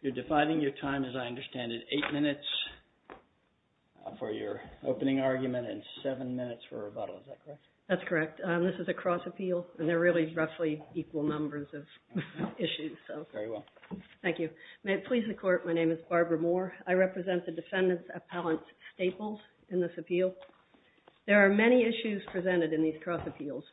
You're defining your time, as I understand it, eight minutes for your opening argument and seven minutes for rebuttal, is that correct? That's correct. This is a cross-appeal and there are really roughly equal numbers of issues. Very well. Thank you. May it please the Court, my name is Barbara Moore. I represent the defendants appellant Staples in this appeal. There are many issues presented in these cross-appeals.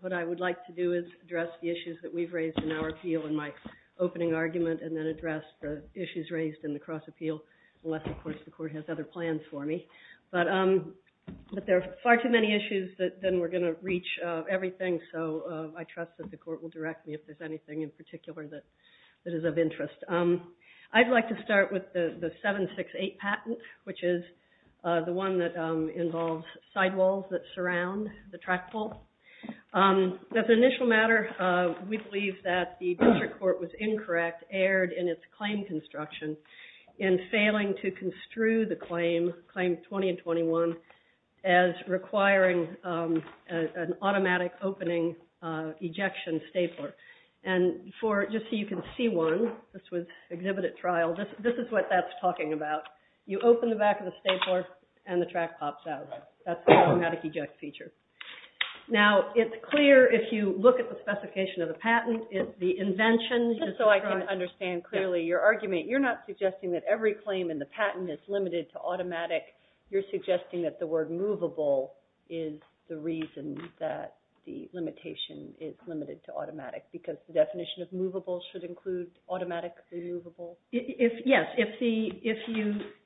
What I would like to do is address the issues that we've raised in our appeal in my opening argument and then address the issues raised in the cross-appeal unless, of course, the reach everything, so I trust that the Court will direct me if there's anything in particular that is of interest. I'd like to start with the 7-6-8 patent, which is the one that involves sidewalls that surround the track pole. As an initial matter, we believe that the district court was incorrect, erred in its claim construction, in failing to construe the claim, Claims 20 and 21, as requiring an automatic opening ejection stapler. Just so you can see one, this was exhibited at trial, this is what that's talking about. You open the back of the stapler and the track pops out. That's the automatic eject feature. Now it's clear if you look at the specification of the patent, the invention, just so I can understand clearly your argument, you're not suggesting that every claim in the patent is limited to automatic. You're suggesting that the word movable is the reason that the limitation is limited to automatic, because the definition of movable should include automatic or movable? Yes.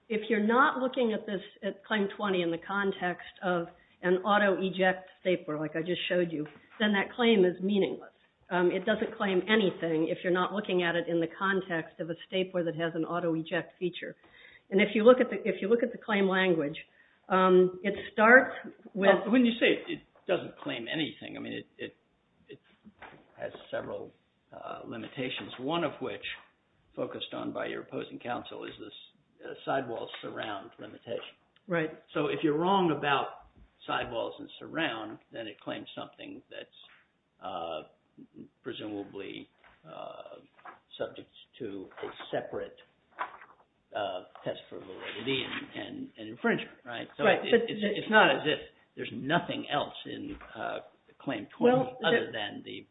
If you're not looking at this, at Claim 20, in the context of an auto-eject stapler, like I just showed you, then that claim is meaningless. It doesn't claim anything if you're not looking at it in the context of a stapler that has an auto-eject feature. If you look at the claim language, it starts with- When you say it doesn't claim anything, it has several limitations, one of which, focused on by your opposing counsel, is this sidewalls surround limitation. If you're wrong about sidewalls and surround, then it claims something that's presumably subject to a separate test for validity and infringement. It's not as if there's nothing else in Claim 20 other than the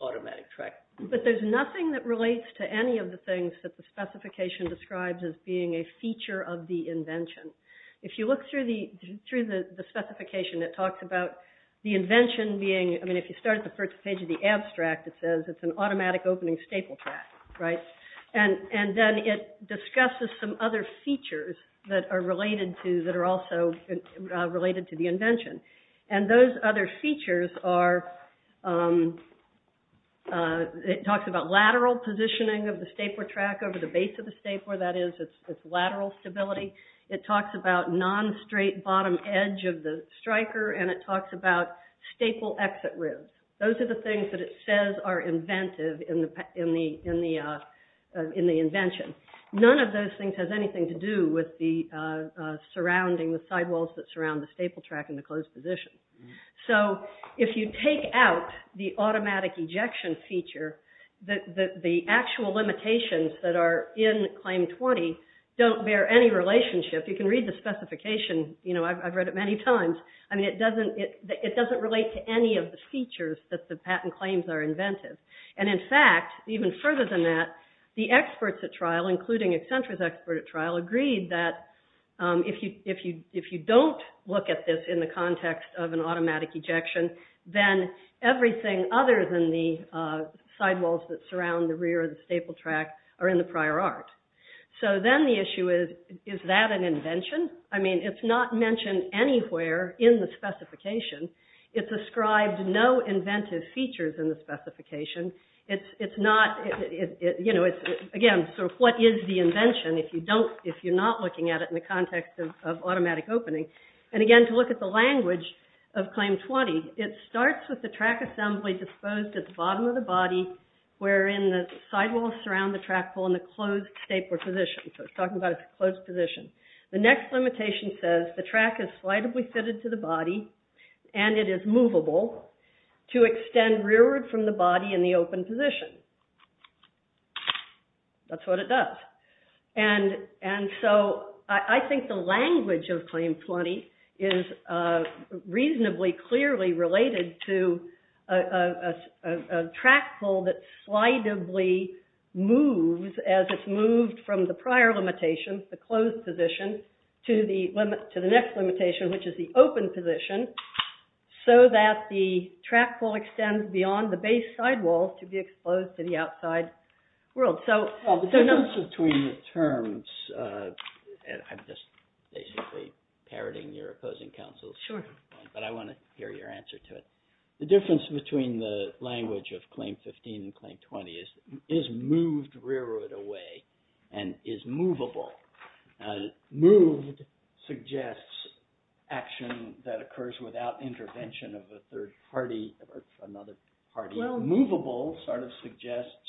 automatic track. There's nothing that relates to any of the things that the specification describes as being a feature of the invention. If you look through the specification, it talks about the invention being- If you start at the first page of the abstract, it says it's an automatic opening staple track. Then it discusses some other features that are also related to the invention. Those other features are- It talks about lateral positioning of the stapler track over the base of the stapler, that is, its lateral stability. It talks about non-straight bottom edge of the striker, and it talks about staple exit ribs. Those are the things that it says are inventive in the invention. None of those things have anything to do with the surrounding, the sidewalls that surround the staple track in the closed position. If you take out the automatic ejection feature, the actual limitations that are in Claim 20 don't bear any relationship. You can read the specification. I've read it many times. It doesn't relate to any of the features that the patent claims are inventive. In fact, even further than that, the experts at trial, including Accenture's expert at trial, agreed that if you don't look at this in the context of an automatic ejection, then everything other than the sidewalls that surround the rear of the staple track are in the closed position. Then the issue is, is that an invention? It's not mentioned anywhere in the specification. It's described no inventive features in the specification. Again, what is the invention if you're not looking at it in the context of automatic opening? Again, to look at the language of Claim 20, it starts with the track assembly disposed at the bottom of the body, wherein the sidewalls surround the track hole in the closed staple position. So it's talking about a closed position. The next limitation says the track is slightly fitted to the body, and it is movable to extend rearward from the body in the open position. That's what it does. And so I think the language of Claim 20 is reasonably clearly related to a track hole that slightly moves as it's moved from the prior limitation, the closed position, to the next limitation, which is the open position, so that the track hole extends beyond the base sidewalls to be exposed to the outside world. So... The difference between the terms... I'm just basically parroting your opposing counsels, but I want to hear your answer to it. The difference between the language of Claim 15 and Claim 20 is, is moved rearward away, and is movable. Moved suggests action that occurs without intervention of a third party or another party. Movable sort of suggests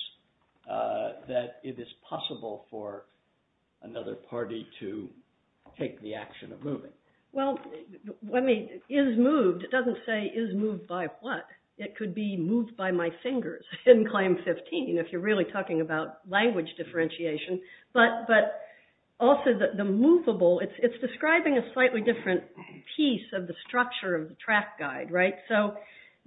that it is possible for another party to take the action of moving. Well, I mean, is moved, it doesn't say, is moved by what? It could be moved by my fingers in Claim 15, if you're really talking about language differentiation. But also, the movable, it's describing a slightly different piece of the structure of the track guide, right? So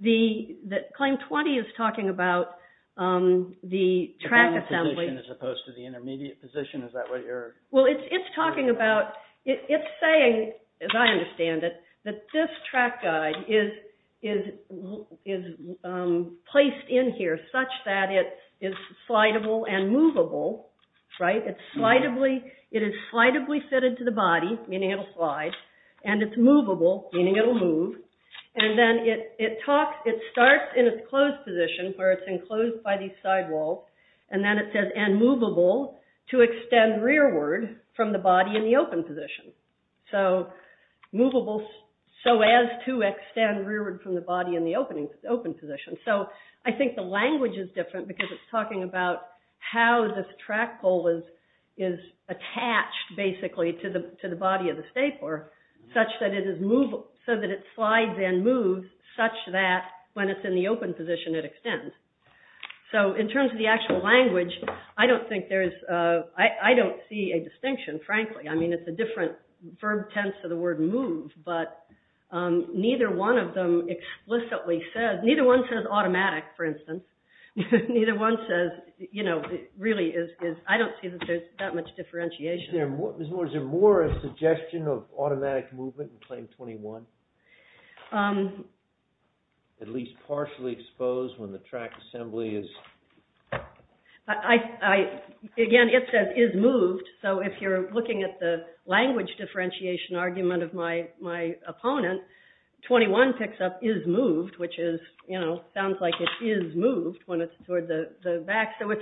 Claim 20 is talking about the track assembly... As opposed to the intermediate position, is that what you're... Well, it's talking about... It's saying, as I understand it, that this track guide is placed in here such that it is slidable and movable, right? It is slidably fitted to the body, meaning it'll slide, and it's movable, meaning it'll move. And then it talks... It starts in a closed position, where it's enclosed by these sidewalls, and then it says, and movable to extend rearward from the body in the open position. So movable so as to extend rearward from the body in the open position. So I think the language is different, because it's talking about how this track pole is attached, basically, to the body of the stapler, such that it is movable, so that it slides and moves such that when it's in the open position, it extends. So in terms of the actual language, I don't think there's... I don't see a distinction, frankly. I mean, it's a different verb tense of the word move, but neither one of them explicitly says... Neither one says automatic, for instance. Neither one says... You know, it really is... I don't see that there's that much differentiation. Is there more a suggestion of automatic movement in Claim 21? At least partially exposed when the track assembly is... Again, it says is moved. So if you're looking at the language differentiation argument of my opponent, 21 picks up is moved, which is, you know, sounds like it is moved when it's toward the back. So if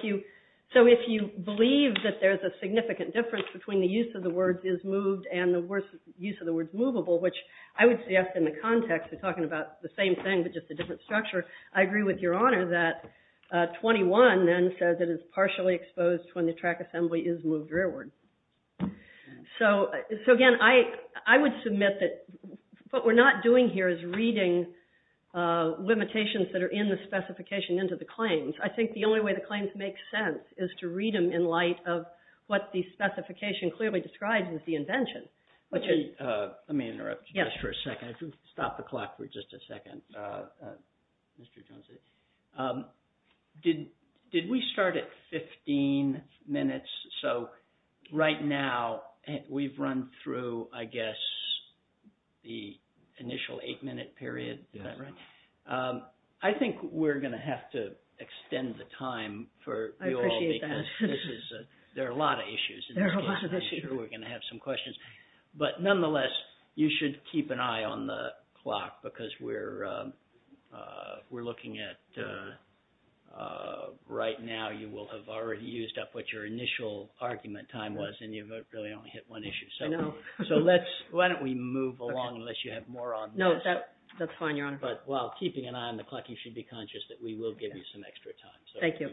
you believe that there's a significant difference between the use of the word is moved and the use of the word movable, which I would ask in the context of talking about the same thing, but just a different structure, I agree with your honor that 21 then says it is partially exposed when the track assembly is moved rearward. So again, I would submit that what we're not doing here is reading limitations that are in the specification into the claims. I think the only way the claims make sense is to read them in light of what the specification clearly describes as the invention, which is... Let me interrupt for a second. Stop the clock for just a second. Did we start at 15 minutes? So right now we've run through, I guess, the initial eight minute period. I think we're going to have to extend the time for you all because there are a lot of issues. We're going to have some questions, but nonetheless, you should keep an eye on the clock because we're looking at... Right now, you will have already used up what your initial argument time was and you've really only hit one issue. So why don't we move along unless you have more on this. No, that's fine, your honor. But while keeping an eye on the clock, you should be conscious that we will give you some extra time. Thank you.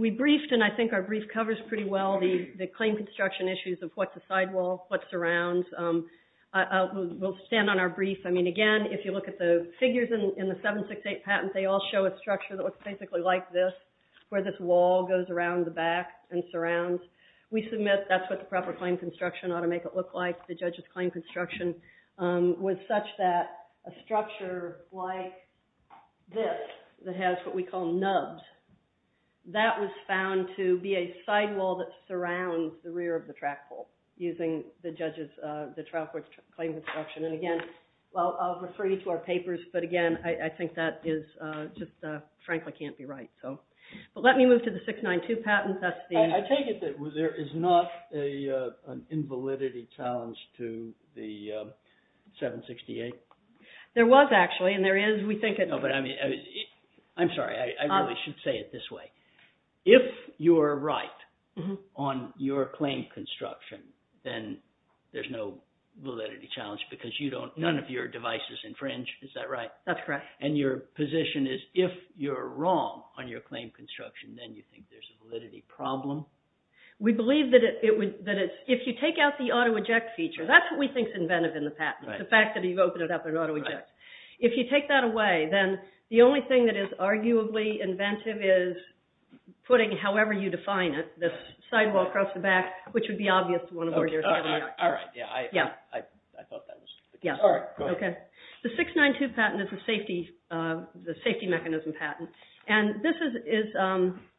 We briefed and I think our brief covers pretty well the claim construction issues of what's a sidewall, what surrounds. We'll stand on our brief. I mean, again, if you look at the figures in the 768 patent, they all show a structure that looks basically like this, where this wall goes around the back and surrounds. We submit that's what the proper claim construction ought to make it look like. The judge's claim construction was such that a bit that has what we call nubs, that was found to be a sidewall that surrounds the rear of the track pole using the judge's claim construction. And again, I'll refer you to our papers, but again, I think that is just frankly can't be right. So let me move to the 692 patent. I take it that there is not an invalidity challenge to the 768? There was actually, and there is, we think it... I'm sorry, I really should say it this way. If you are right on your claim construction, then there's no validity challenge because none of your device is infringed. Is that right? That's correct. And your position is if you're wrong on your claim construction, then you think there's a validity problem? We believe that if you take out the auto eject feature, that's what we think's invented in the auto eject. If you take that away, then the only thing that is arguably inventive is putting, however you define it, this sidewall across the back, which would be obvious to one of our jurors. The 692 patent is a safety mechanism patent. And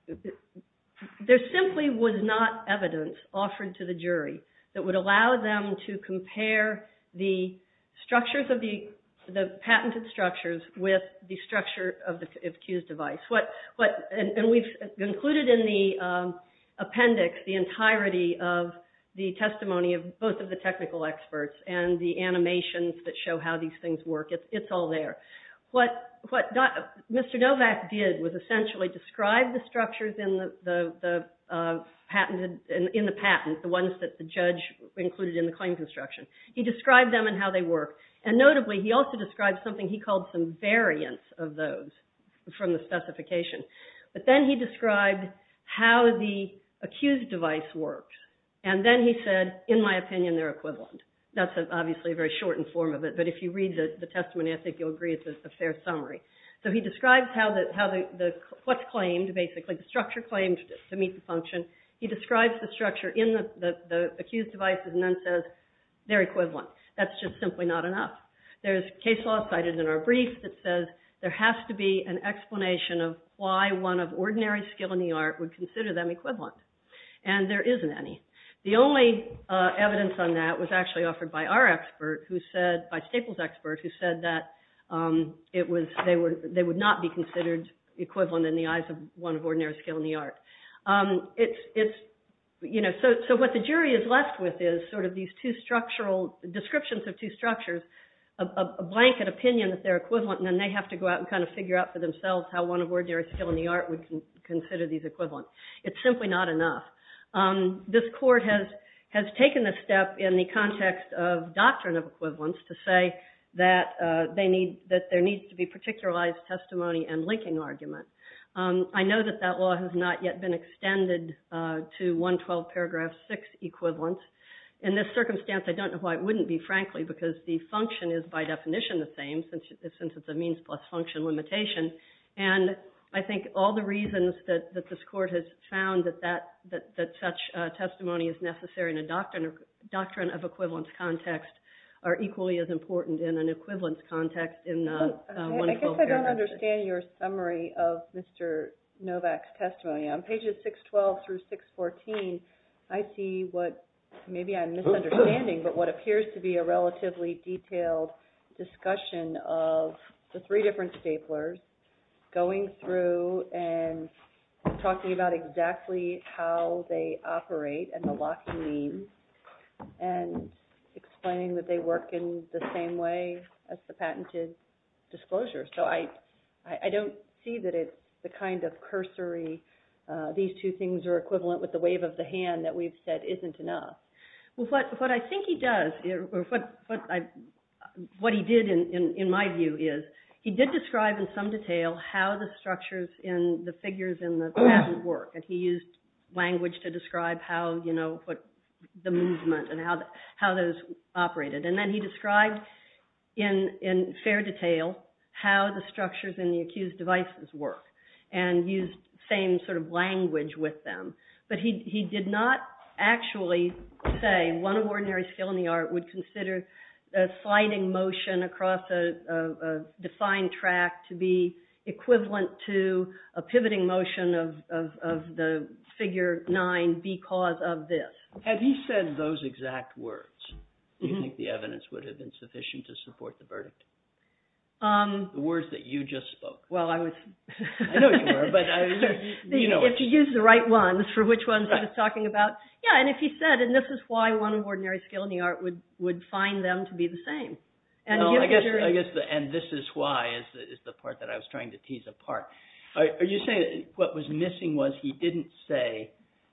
this simply was not evidence offered to the jury that would allow them to compare the patented structures with the structure of Q's device. And we've included in the appendix the entirety of the testimony of both of the technical experts and the animations that show how these things work. It's all there. What Mr. Novak did was essentially describe the structures in the patent, the ones that the judge included in the claims instruction. He described them and how they work. And notably, he also described something he called some variants of those from the specification. But then he described how the accused device works. And then he said, in my opinion, they're equivalent. That's obviously a very shortened form of it. But if you read the testimony, I think you'll agree it's a fair summary. So he describes what's claimed, basically the structure claims to meet the function. He describes the structure in the accused devices and then says they're equivalent. That's just simply not enough. There's case law cited in our brief that says there has to be an explanation of why one of ordinary skill in the art would consider them equivalent. And there isn't any. The only evidence on that was actually offered by our expert, by Staple's expert, who said that they would not be considered equivalent in the eyes of one of ordinary skill in the art. So what the jury is left with is sort of these two structural descriptions of two structures, a blanket opinion that they're equivalent, and then they have to go out and kind of figure out for themselves how one of ordinary skill in the art would consider these equivalent. It's simply not enough. This court has taken a step in the context of doctrine of equivalence to say that there needs to be a particularized testimony and linking argument. I know that that law has not yet been extended to 112 paragraph 6 equivalence. In this circumstance, I don't know why it wouldn't be, frankly, because the function is by definition the same, since it's a means plus function limitation. And I think all the reasons that this court has found that such testimony is necessary in a doctrine of equivalence context are equally as important in an equivalence context. I don't understand your summary of Mr. Novak's testimony. On pages 612 through 614, I see what, maybe I'm misunderstanding, but what appears to be a relatively detailed discussion of the three different staplers going through and talking about exactly how they operate and the locks and means, and explain that they work in the same way as the patented disclosure. So I don't see that it's the kind of cursory, these two things are equivalent with the wave of the hand that we've said isn't enough. Well, what I think he does, what he did in my view is, he did describe in some detail how the structures in the figures in the statute work, and he used language to describe how, you know, the movement and how those operated. And then he described in fair detail how the structures in the accused devices work, and used the same sort of language with them. But he did not actually say one ordinary skill in the art would consider sliding motion across a defined track to be equivalent to a pivoting motion of the figure 9 because of this. Have you said those exact words? Do you think the evidence would have been sufficient to support the verdict? The words that you just spoke. Well, I was, I know you were, but I was, you know. If he used the right ones for which ones I was talking about. Yeah, and if he said, and this is why one ordinary skill in the art would find them to be the same. I guess, and this is why is the part that I was trying to tease apart. Are you saying what was missing was he didn't say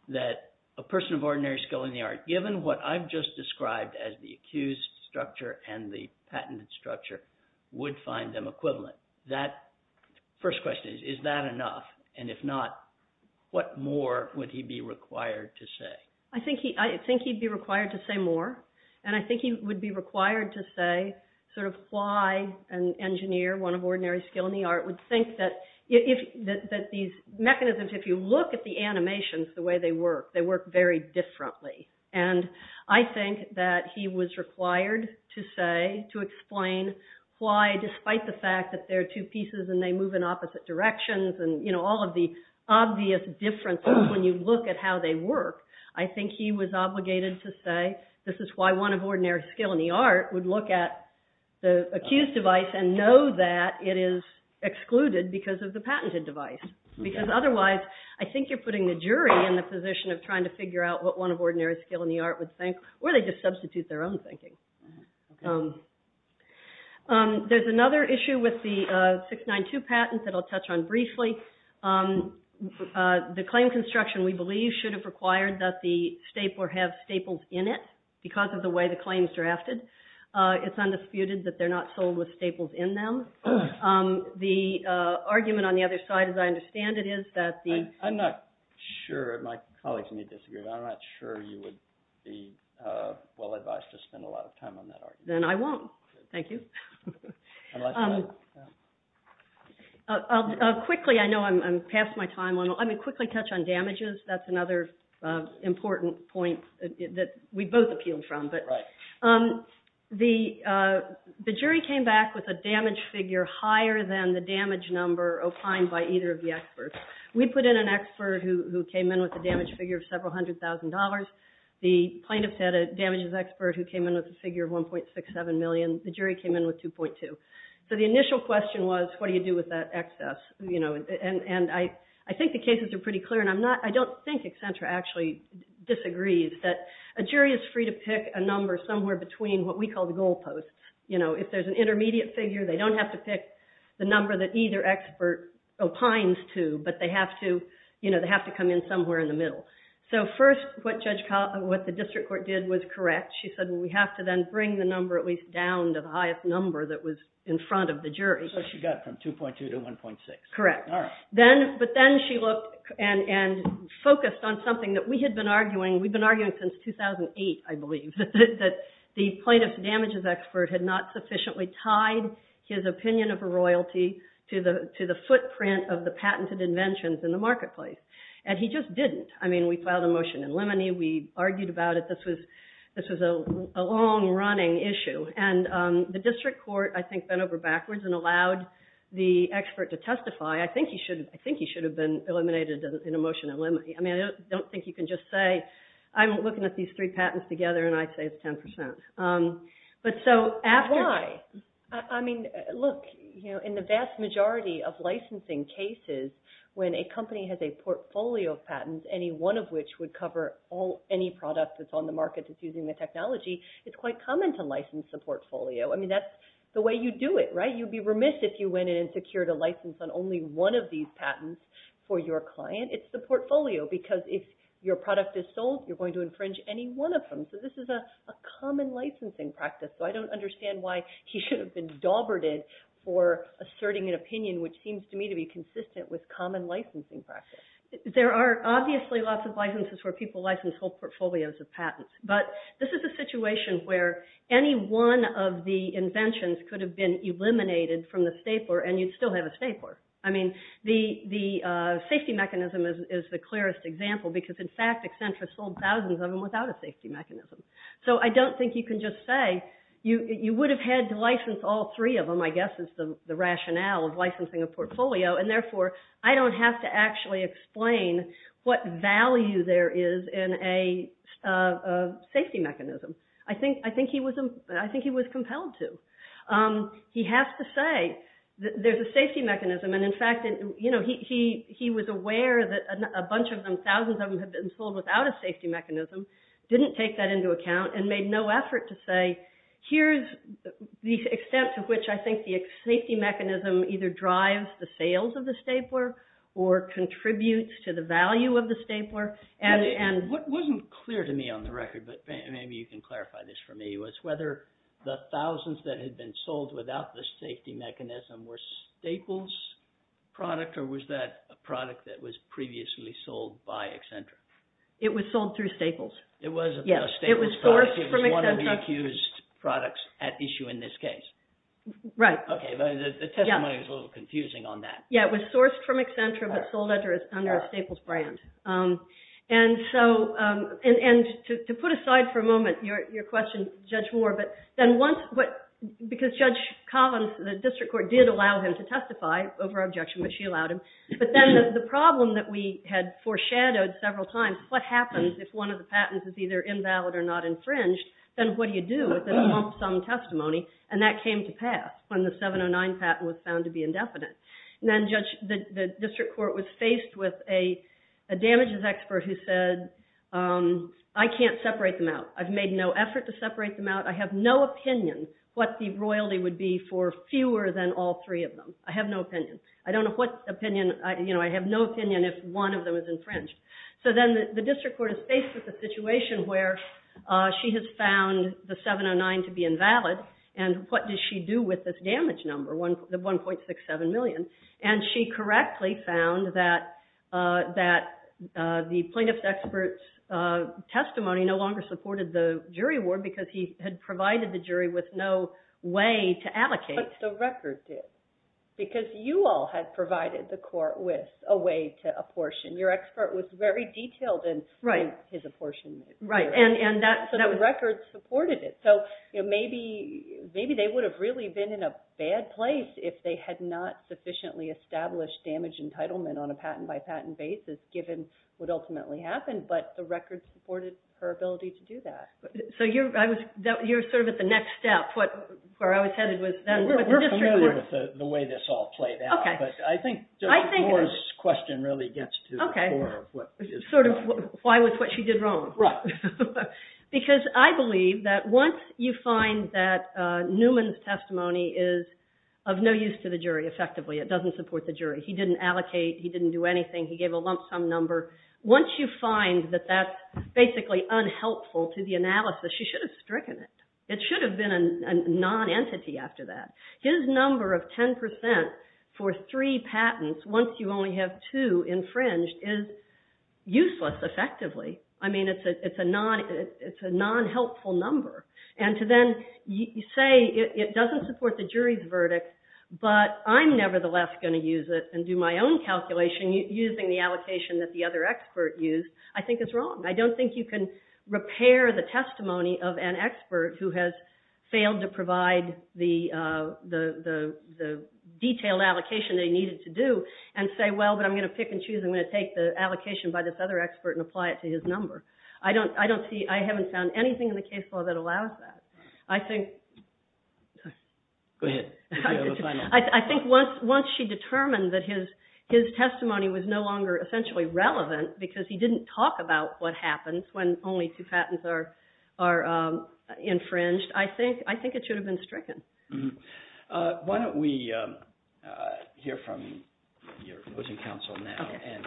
that a person of ordinary skill in the art, given what I've just described as the accused structure and the patent structure, would find them equivalent. That first question is, is that enough? And if not, what more would he be required to say? I think he'd be required to say more. And I think he would be required to say sort of why an engineer, one of ordinary skill in the art, would think that these mechanisms, if you look at the animations, the way they work, they work very differently. And I think that he was required to say, to explain why, despite the fact that they're two pieces and they move in opposite directions and, you know, all of the obvious differences when you look at how they work, I think he was obligated to say, this is why one of ordinary skill in the art would look at the accused device and know that it is excluded because of the patented device. Because otherwise, I think you're putting the jury in the position of trying to figure out what one of ordinary skill in the art would think, or they just substitute their own thinking. There's another issue with the 692 patents that I'll touch on briefly. The claim construction, we believe, should have required that the stapler have staples in it because of the way the claim is drafted. It's undisputed that they're not sold with staples in them. The argument on the other side, as I understand it, is that the... I'm not sure. My colleagues may disagree, but I'm not sure you would be well advised to spend a lot of time on that argument. Then I won't. Thank you. Quickly, I know I'm past my time. I'm going to quickly touch on the damages. That's another important point that we both appeal from. The jury came back with a damage figure higher than the damage number of time by either of the experts. We put in an expert who came in with a damage figure of several hundred thousand dollars. The plaintiff had a damages expert who came in with a figure of 1.67 million. The jury came in with 2.2. The initial question was, what do you do with that excess? I think the cases are pretty clear. I'm not think Accenture actually disagrees that a jury is free to pick a number somewhere between what we call the goalposts. If there's an intermediate figure, they don't have to pick the number that either expert opines to, but they have to come in somewhere in the middle. First, what the district court did was correct. She said, we have to then bring the number at least down to the highest number that was in front of the jury. She got from 2.2 to 1.6. Correct. But then she looked and focused on something that we had been arguing. We've been arguing since 2008, I believe, that the plaintiff's damages expert had not sufficiently tied his opinion of a royalty to the footprint of the patented inventions in the marketplace. He just didn't. We filed a motion in limine. We argued about it. This was a long-running issue. The district court, I think, went over backwards and allowed the expert to testify. I think he should have been eliminated in a motion in limine. I don't think you can just say, I'm looking at these three patents together, and I'd say it's 10%. Look, in the vast majority of licensing cases, when a company has a portfolio of patents, any one of which would cover any product that's on the market that's using the technology, it's quite common to license a portfolio. That's the way you do it, right? You'd be remiss if you went in and secured a license on only one of these patents for your client. It's the portfolio, because if your product is sold, you're going to infringe any one of them. This is a common licensing practice. I don't understand why he should have been daubered in for asserting an opinion which seems to me to be consistent with common licensing practice. There are obviously lots of licenses where people license whole portfolios of patents, but this is a situation where any one of the inventions could have been eliminated from the stapler, and you'd still have a stapler. The safety mechanism is the clearest example, because in fact, Accenture sold thousands of them without a safety mechanism. I don't think you can just say, you would have had to license all three of them, I guess, is the rationale of licensing a portfolio, and therefore, I don't have to actually explain what value there is in a safety mechanism. I think he was compelled to. He has to say that there's a safety mechanism, and in fact, he was aware that a bunch of them, thousands of them, had been sold without a safety mechanism, didn't take that into account, and made no effort to say, here's the extent to which I think the safety mechanism either drives the sales of the stapler or contributes to the value of the stapler. It wasn't clear to me on the record, but maybe you can clarify this for me, was whether the thousands that had been sold without the safety mechanism were Staples product, or was that a product that was previously sold by Accenture? It was sold through Staples. It was one of the accused products at issue in this case. Right. Okay, the testimony is a little confusing on that. Yeah, it was sourced from Accenture, but sold under a Staples brand, and to put aside for a moment your question, Judge Moore, because Judge Collins, the district court did allow him to testify over objection, but she allowed him, but then the problem that we had foreshadowed several times, what happens if one of the patents is either invalid or not infringed, then what do you do if there's not some testimony, and that came to pass when the 709 patent was found to be indefinite? And then the district court was faced with a damages expert who said, I can't separate them out. I've made no effort to separate them out. I have no opinion what the royalty would be for fewer than all three of them. I have no opinion. I don't know what opinion, I have no opinion if one of them is infringed. So then the district court is faced with a situation where she has found the 709 to be invalid, and what does she do with this damage number, the 1.67 million, and she correctly found that the plaintiff's expert's testimony no longer supported the jury award because he had provided the jury with no way to allocate. That's what the record did, because you all had provided the court with a way to apportion. Your expert was very detailed in his apportionment. And the record supported it. So maybe they would have really been in a bad place if they had not sufficiently established damage entitlement on a patent by patent basis, given what ultimately happened, but the record supported her ability to do that. So you're sort of at the next step, where I was headed with the district court. We're familiar with the way this all played out, but I think Laura's question really gets to the core of what is going on. Why was what she did wrong? Because I believe that once you find that Newman's testimony is of no use to the jury effectively, it doesn't support the jury, he didn't allocate, he didn't do anything, he gave a lump sum number. Once you find that that's basically unhelpful to the analysis, you should have stricken it. It should have been a non-entity after that. His number of 10% for three patents, once you only have two infringed, is useless effectively. I mean, it's a non-helpful number. And to then say it doesn't support the jury's verdict, but I'm nevertheless going to use it and do my own calculation using the allocation that the other expert used, I think it's wrong. I don't think you can repair the testimony of an expert who has failed to provide the detailed allocation they needed to do and say, well, but I'm going to pick and choose. I'm going to take the allocation by this other expert and apply it to his number. I haven't found anything in the case law that allows that. I think once she determined that his testimony was no longer essentially relevant because he didn't talk about what happens when only two patents are infringed, I think it should have been stricken. Why don't we hear from your opposing counsel now, and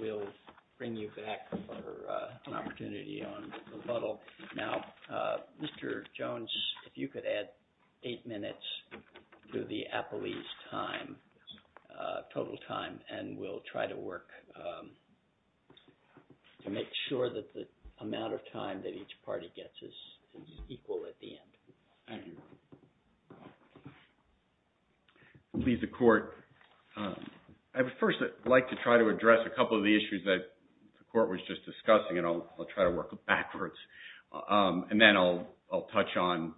we'll bring you back for an opportunity on rebuttal. Now, Mr. Jones, if you could add eight minutes to the appellee's total time, and we'll try to work to make sure that the amount of time that each party gets is equal at the end. Please, the court. I would first like to try to address a couple of the issues that the court was just discussing, and I'll try to work backwards. And then I'll touch on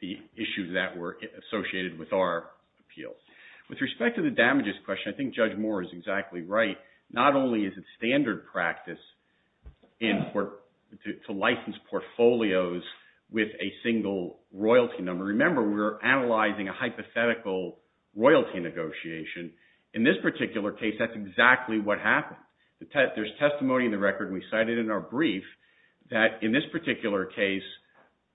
the issues that were associated with our appeal. With respect to the damages question, I think Judge Moore is exactly right. Not only is it standard practice to license portfolios with a single royalty number. Remember, we're analyzing a hypothetical royalty negotiation. In this particular case, that's exactly what happened. There's testimony in the record, and we cited in our brief that in this particular case,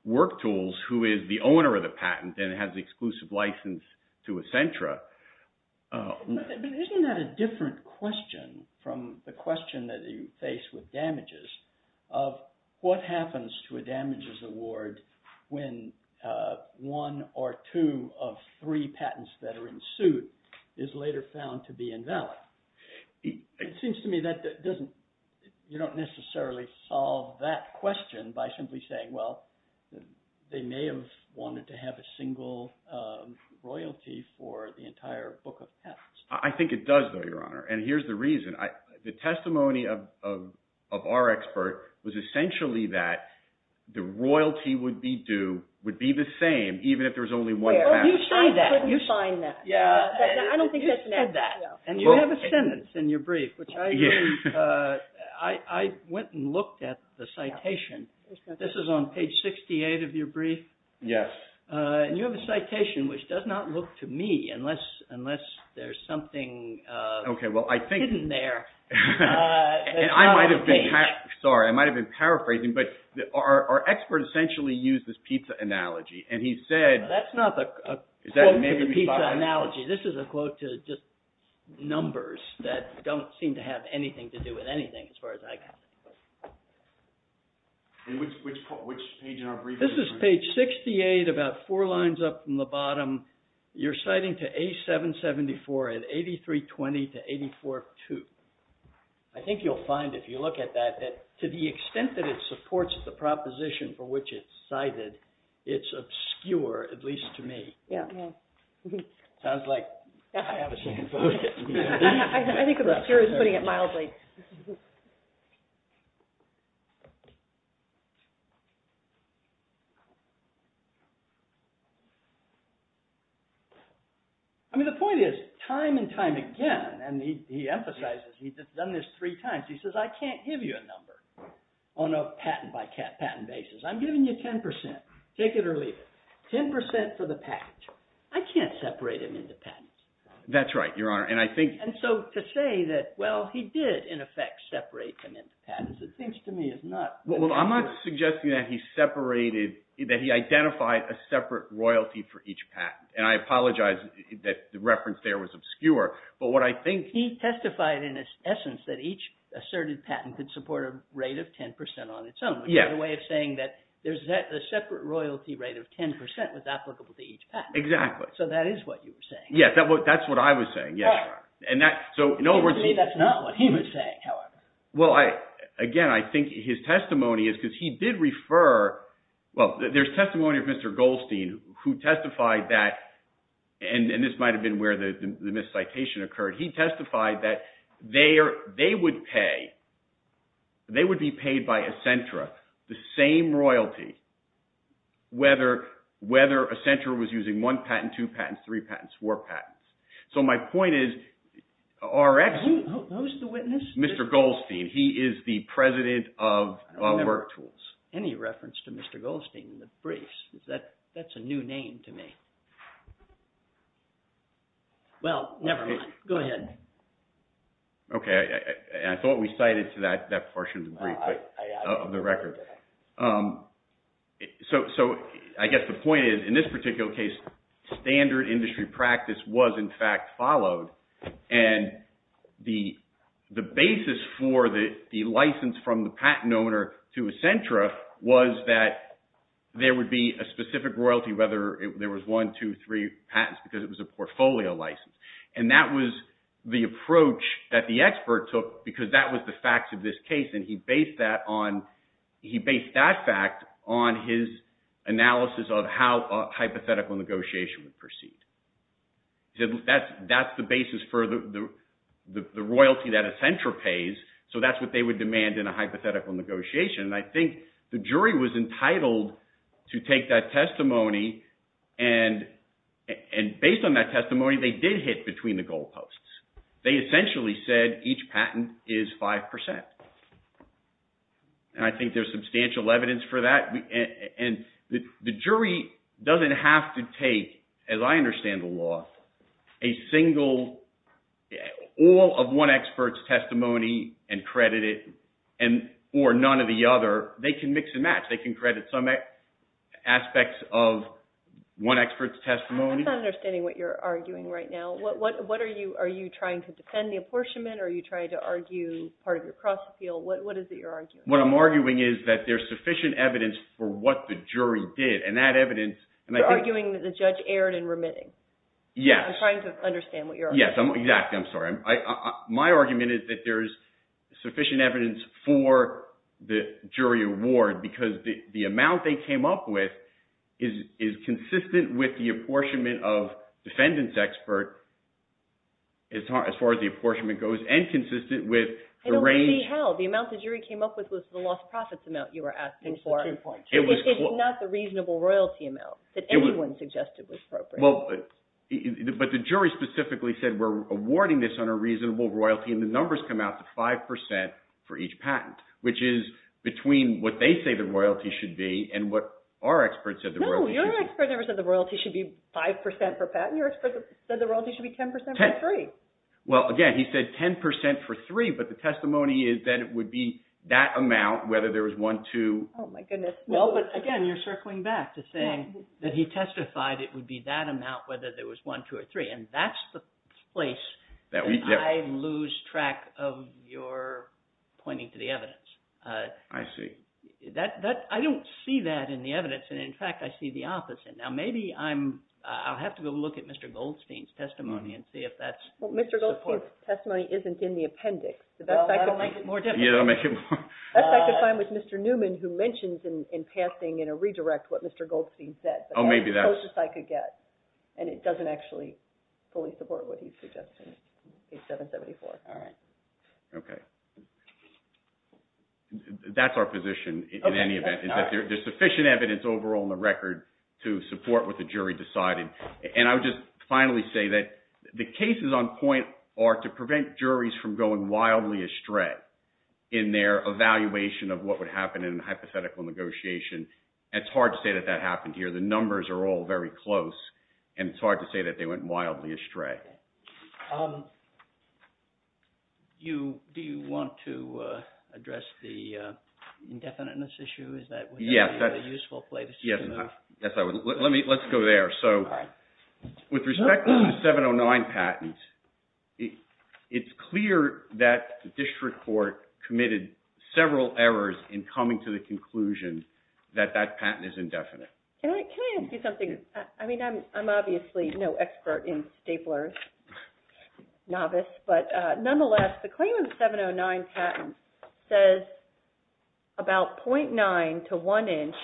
WorkTools, who is the owner of the patent and has exclusive license to Accenture, isn't that a different question from the question that you face with damages, of what happens to a damages award when one or two of three patents that are in suit is later found to be invalid? It seems to me that you don't necessarily solve that question by simply saying, well, they may have wanted to have a single royalty for the entire book of patents. I think it does, though, Your Honor. And here's the reason. The testimony of our expert was essentially that the royalty would be the same even if there's only one patent. You signed that. You signed that. I don't think that's necessary. And you have a sentence in your brief, which I went and looked at the citation. This is on page of your brief? Yes. And you have a citation, which does not look to me, unless there's something hidden there. I might have been paraphrasing, but our expert essentially used this pizza analogy, and he said... That's not a pizza analogy. This is a quote to just numbers that don't seem to have anything to do with anything as far as I can tell. And which page in our brief... This is page 68, about four lines up from the bottom. You're citing to A774 at 8320 to 8482. I think you'll find, if you look at that, that to the extent that it supports the proposition for which it's cited, it's obscure, at least to me. Yeah. It sounds like I have a chance to lose it. I think of the fear of putting it mildly. I mean, the point is, time and time again, and he emphasizes, he's done this three times, he says, I can't give you a number on a patent by patent basis. I'm giving you 10%. Take it or leave it. 10% for the patent. I can't separate them into patents. That's right, Your Honor. And I think... And so to say that, well, he did, in effect, separate them into patents, it seems to me is not... Well, I'm not suggesting that he separated, that he identified a separate royalty for each patent. And I apologize that the reference there was obscure, but what I think... He testified in his essence that each asserted patent could support a rate of 10% on its own, which is a way of saying that a separate royalty rate of 10% was applicable to each patent. Exactly. So that is what you're saying. Yeah, that's what I was saying, yeah. And that, so in other words... Maybe that's not what he was saying, however. Well, again, I think his testimony is, because he did refer... Well, there's testimony of Mr. Goldstein, who testified that, and this might've been where the miscitation occurred, he testified that they would pay, they would be paid by Ecentra the same royalty whether Ecentra was using one patent, two patents, three patents, four patents. So my point is, our... Who's the witness? Mr. Goldstein. He is the president of WorkTools. Any reference to Mr. Goldstein in the briefs, that's a new name to me. Well, never mind. Go ahead. Okay. I thought we cited to that portion of the brief, of the record. So I guess the point is, in this particular case, standard industry practice was in fact followed. And the basis for the license from the patent owner to Ecentra was that there would be a specific royalty, whether there was one, two, three patents, because it was a portfolio license. And that was the approach that the expert took, because that was the fact of this case. And he based that on, he based that fact on his analysis of how a hypothetical negotiation would proceed. That's the basis for the royalty that Ecentra pays. So that's what they would demand in a hypothetical negotiation. And I think the jury was entitled to take that testimony. And based on that testimony, they did hit between the goalposts. They essentially said each patent is 5%. And I think there's substantial evidence for that. And the jury doesn't have to take, as I understand the law, a single, all of one expert's testimony and credit it, or none of the other. They can mix and match. They can credit some aspects of one expert's testimony. I'm not understanding what you're arguing right now. What are you, are you trying to defend the apportionment, or are you trying to argue part of the cross-appeal? What is it you're arguing? What I'm arguing is that there's sufficient evidence for what the jury did. And that evidence- You're arguing that the judge erred in remitting. Yes. I'm trying to understand what you're- Yes. Exactly. I'm sorry. My argument is that there's sufficient evidence for the jury award, because the amount they came up with is consistent with the apportionment of defendants' experts, as far as the apportionment goes, and consistent with the range- It already held. The amount the jury came up with was the loss of profits amount you were asking for at the point. It's not the reasonable royalty amount that anyone suggested was appropriate. Well, but the jury specifically said, we're awarding this on a reasonable royalty, and the numbers come out to 5% for each patent, which is between what they say the royalty should be and what our expert said the royalty should be. No, your expert never said the royalty should be 5% for a patent. Your expert said the royalty should be 10% for three. Well, again, he said 10% for three, but the testimony is that it would be that amount, whether there was one, two- Oh, my goodness. No, but again, you're circling back to saying that he testified it would be that amount, whether there was one, two, or three, and that's the place that I lose track of your pointing to the evidence. I see. I don't see that in the evidence, and in fact, I see the opposite. Now, maybe I'll have to go look at Mr. Goldstein's testimony and see if that's the point. Well, Mr. Goldstein's testimony isn't in the appendix. That's like the time with Mr. Newman, who mentions in passing in a redirect what Mr. Goldstein said. Oh, maybe that's- That's the closest I could get, and it doesn't actually fully support what he's suggesting, page 774. All right. Okay. That's our position in any event, is that there's sufficient evidence overall in the record to support what the jury decided. I would just finally say that the cases on point are to prevent juries from going wildly astray in their evaluation of what would happen in hypothetical negotiation. It's hard to say that that happened here. The numbers are all very close, and it's hard to say that they went wildly astray. Do you want to address the indefiniteness issue? Is that a useful place to- Yes. Yes, I would. Let's go there. With respect to the 709 patent, it's clear that the district court committed several errors in coming to the conclusion that that patent is indefinite. Eric, can I ask you something? I mean, I'm obviously no expert in staplers, novice, but nonetheless, the claim of the 709 patent says about 0.9 to one inch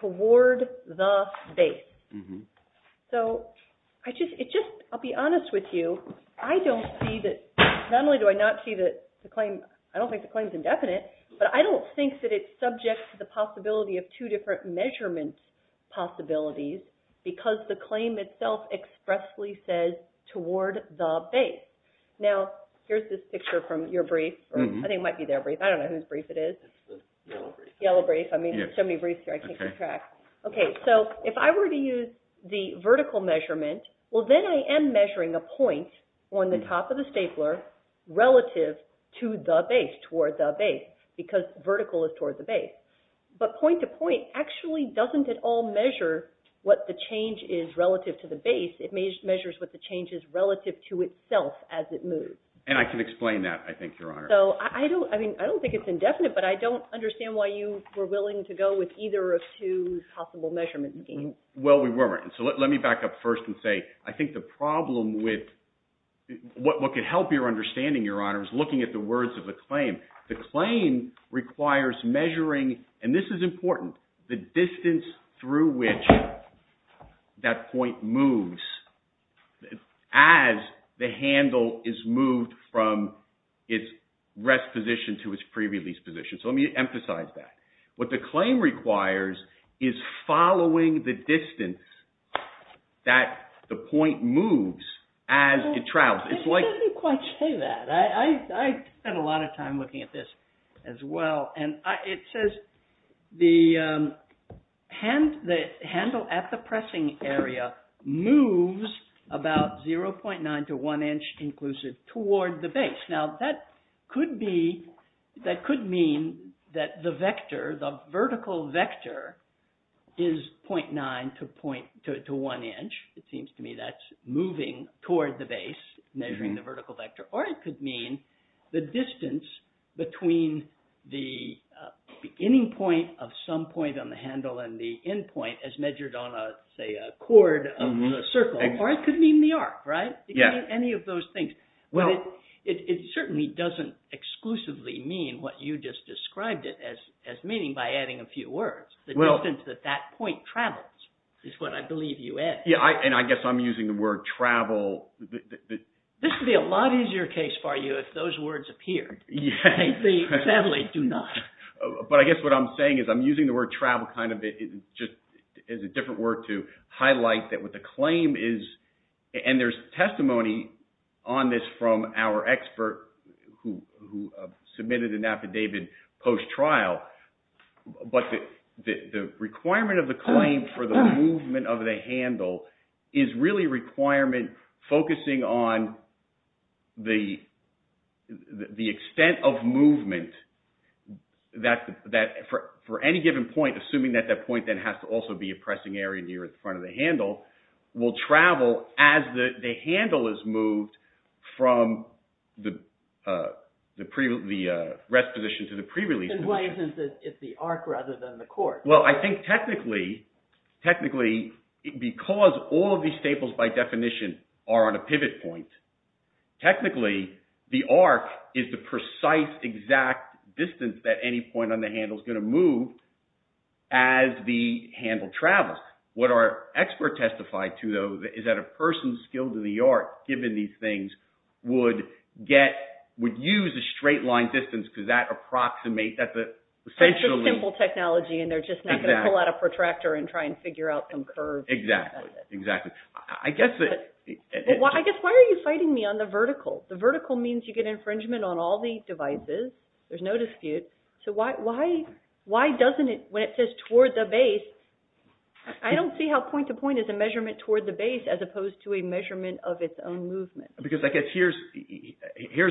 toward the base. I'll be honest with you, I don't see that... Not only do I not see that the claim... I don't think that it's subject to the possibility of two different measurement possibilities because the claim itself expressly says toward the base. Now, here's this picture from your brief. I think it might be their brief. I don't know whose brief it is. Yellow brief. I mean, there's so many briefs here, I can't keep track. Okay. If I were to use the vertical measurement, well, then I am measuring a point on the top of stapler relative to the base, toward the base, because vertical is toward the base. But point to point actually doesn't at all measure what the change is relative to the base. It measures what the change is relative to itself as it moves. And I can explain that, I think, Your Honor. So I don't think it's indefinite, but I don't understand why you were willing to go with either of two possible measurement means. Well, we weren't. So let me back up first and say, I think the problem with what could help your understanding, Your Honor, is looking at the words of the claim. The claim requires measuring, and this is important, the distance through which that point moves as the handle is moved from its rest position to its pre-release position. So let me emphasize that. What the claim requires is following the distance that the point moves as it travels. It doesn't quite say that. I spent a lot of time looking at this as well. And it says the handle at the pressing area moves about 0.9 to one inch inclusive toward the base. Now, that could mean that the vector, the vertical vector, is 0.9 to one inch. It seems to me that's moving toward the base, measuring the vertical vector. Or it could mean the distance between the beginning point of some point on the handle and the end point as measured on, say, a chord circle. Or it could mean the arc, right? Any of those things. But it certainly doesn't exclusively mean what you just described it as meaning by adding a few words. The distance that that point travels is what I believe you added. Yeah, and I guess I'm using the word travel. This would be a lot easier case for you if those words appeared. But I guess what I'm saying is I'm using the word travel kind of as a different word to the claim. And there's testimony on this from our expert who submitted an affidavit post-trial. But the requirement of the claim for the movement of the handle is really a requirement focusing on the extent of movement for any given point, assuming that that point then has to also be pressing area near the front of the handle, will travel as the handle is moved from the rest position to the pre-release position. And why is it the arc rather than the chord? Well, I think technically, because all of these staples by definition are on a pivot point, technically the arc is the precise exact distance that any point on the handle is going to move as the handle travels. What our expert testified to, though, is that a person skilled in the art given these things would get, would use a straight line distance because that approximates, that's a essentially... Simple technology and they're just not going to pull out a protractor and try and figure out some curves. Exactly, exactly. I guess... I guess why are you fighting me on the vertical? The vertical means you get infringement on all these devices. There's no dispute. So why doesn't it, when it says toward the base, I don't see how point to point is a measurement toward the base as opposed to a measurement of its own movement. Because I guess here's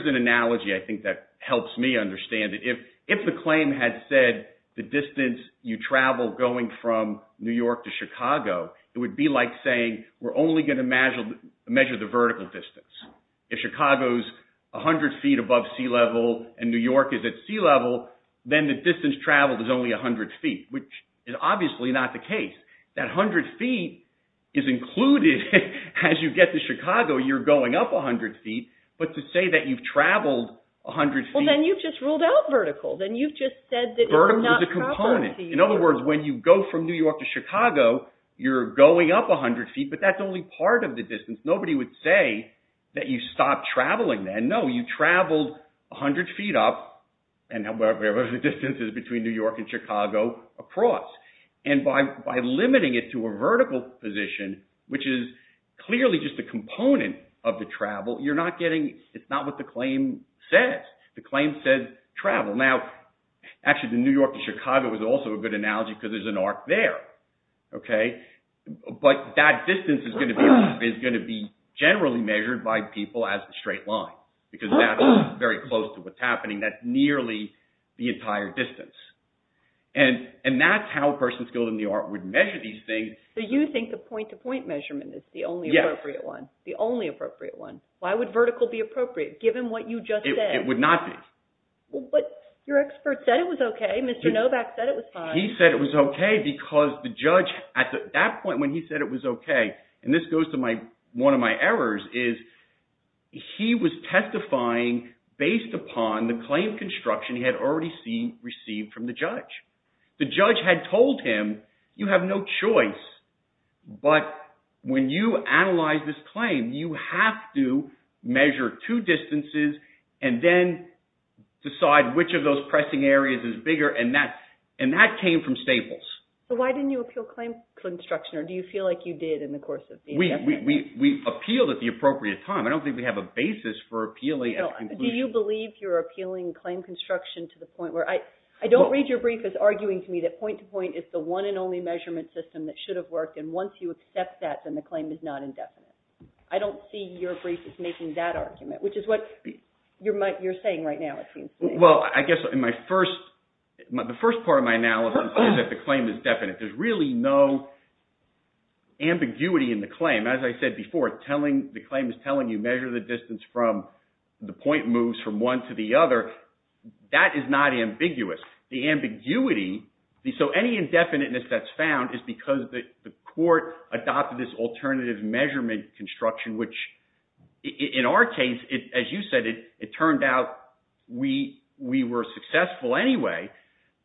an analogy I think that helps me understand it. If the claim had said the distance you travel going from New York to Chicago, it would be like saying we're only going to measure the vertical distance. If Chicago's 100 feet above sea level and New York is at sea level, then the distance traveled is only 100 feet, which is obviously not the case. That 100 feet is included as you get to Chicago, you're going up 100 feet. But to say that you've traveled 100 feet... Well, then you've just ruled out vertical. Then you've just said that... Vertical is a component. In other words, when you go from New York to Chicago, you're going up 100 feet, but that's only part of the distance. Nobody would say that you stopped traveling then. No, you traveled 100 feet up, and the distance is between New York and Chicago across. And by limiting it to a vertical position, which is clearly just a component of the travel, you're not getting... It's not what the claim says. The claim says travel. Now, actually the New York to Chicago was also a good analogy because there's an arc there. But that distance is going to be generally measured by people as a straight line, because that's very close to what's happening. That's nearly the entire distance. And that's how a person skilled in the art would measure these things. So you think the point-to-point measurement is the only appropriate one? The only appropriate one. Why would vertical be appropriate, given what you just said? It would not be. But your expert said it was okay. Mr. Novak said it was fine. He said it was okay because the judge, at that point when he said it was okay, and this goes to one of my errors, is he was testifying based upon the claim construction he had already received from the judge. The judge had told him, you have no choice, but when you analyze this claim, you have to measure two distances and then decide which of those pressing areas is bigger. And that came from Staples. So why didn't you appeal claim construction? Or do you feel like you did in the course of... We appealed at the appropriate time. I don't think we have a basis for appealing... Do you believe you're appealing claim construction to the point where... I don't read your brief as arguing to me that point-to-point is the one and only measurement system that should have worked. And once you accept that, then the claim is not indefinite. I don't see your brief as making that argument, which is what you're saying right now, it seems to me. Well, I guess the first part of my analysis is that the claim is definite. There's really no ambiguity in the claim. As I said before, the claim is telling you measure the distance from the point moves from one to the other. That is not ambiguous. The ambiguity... So any indefiniteness that's found is because the court adopted this alternative measurement construction, which in our case, as you said, it turned out we were successful anyway.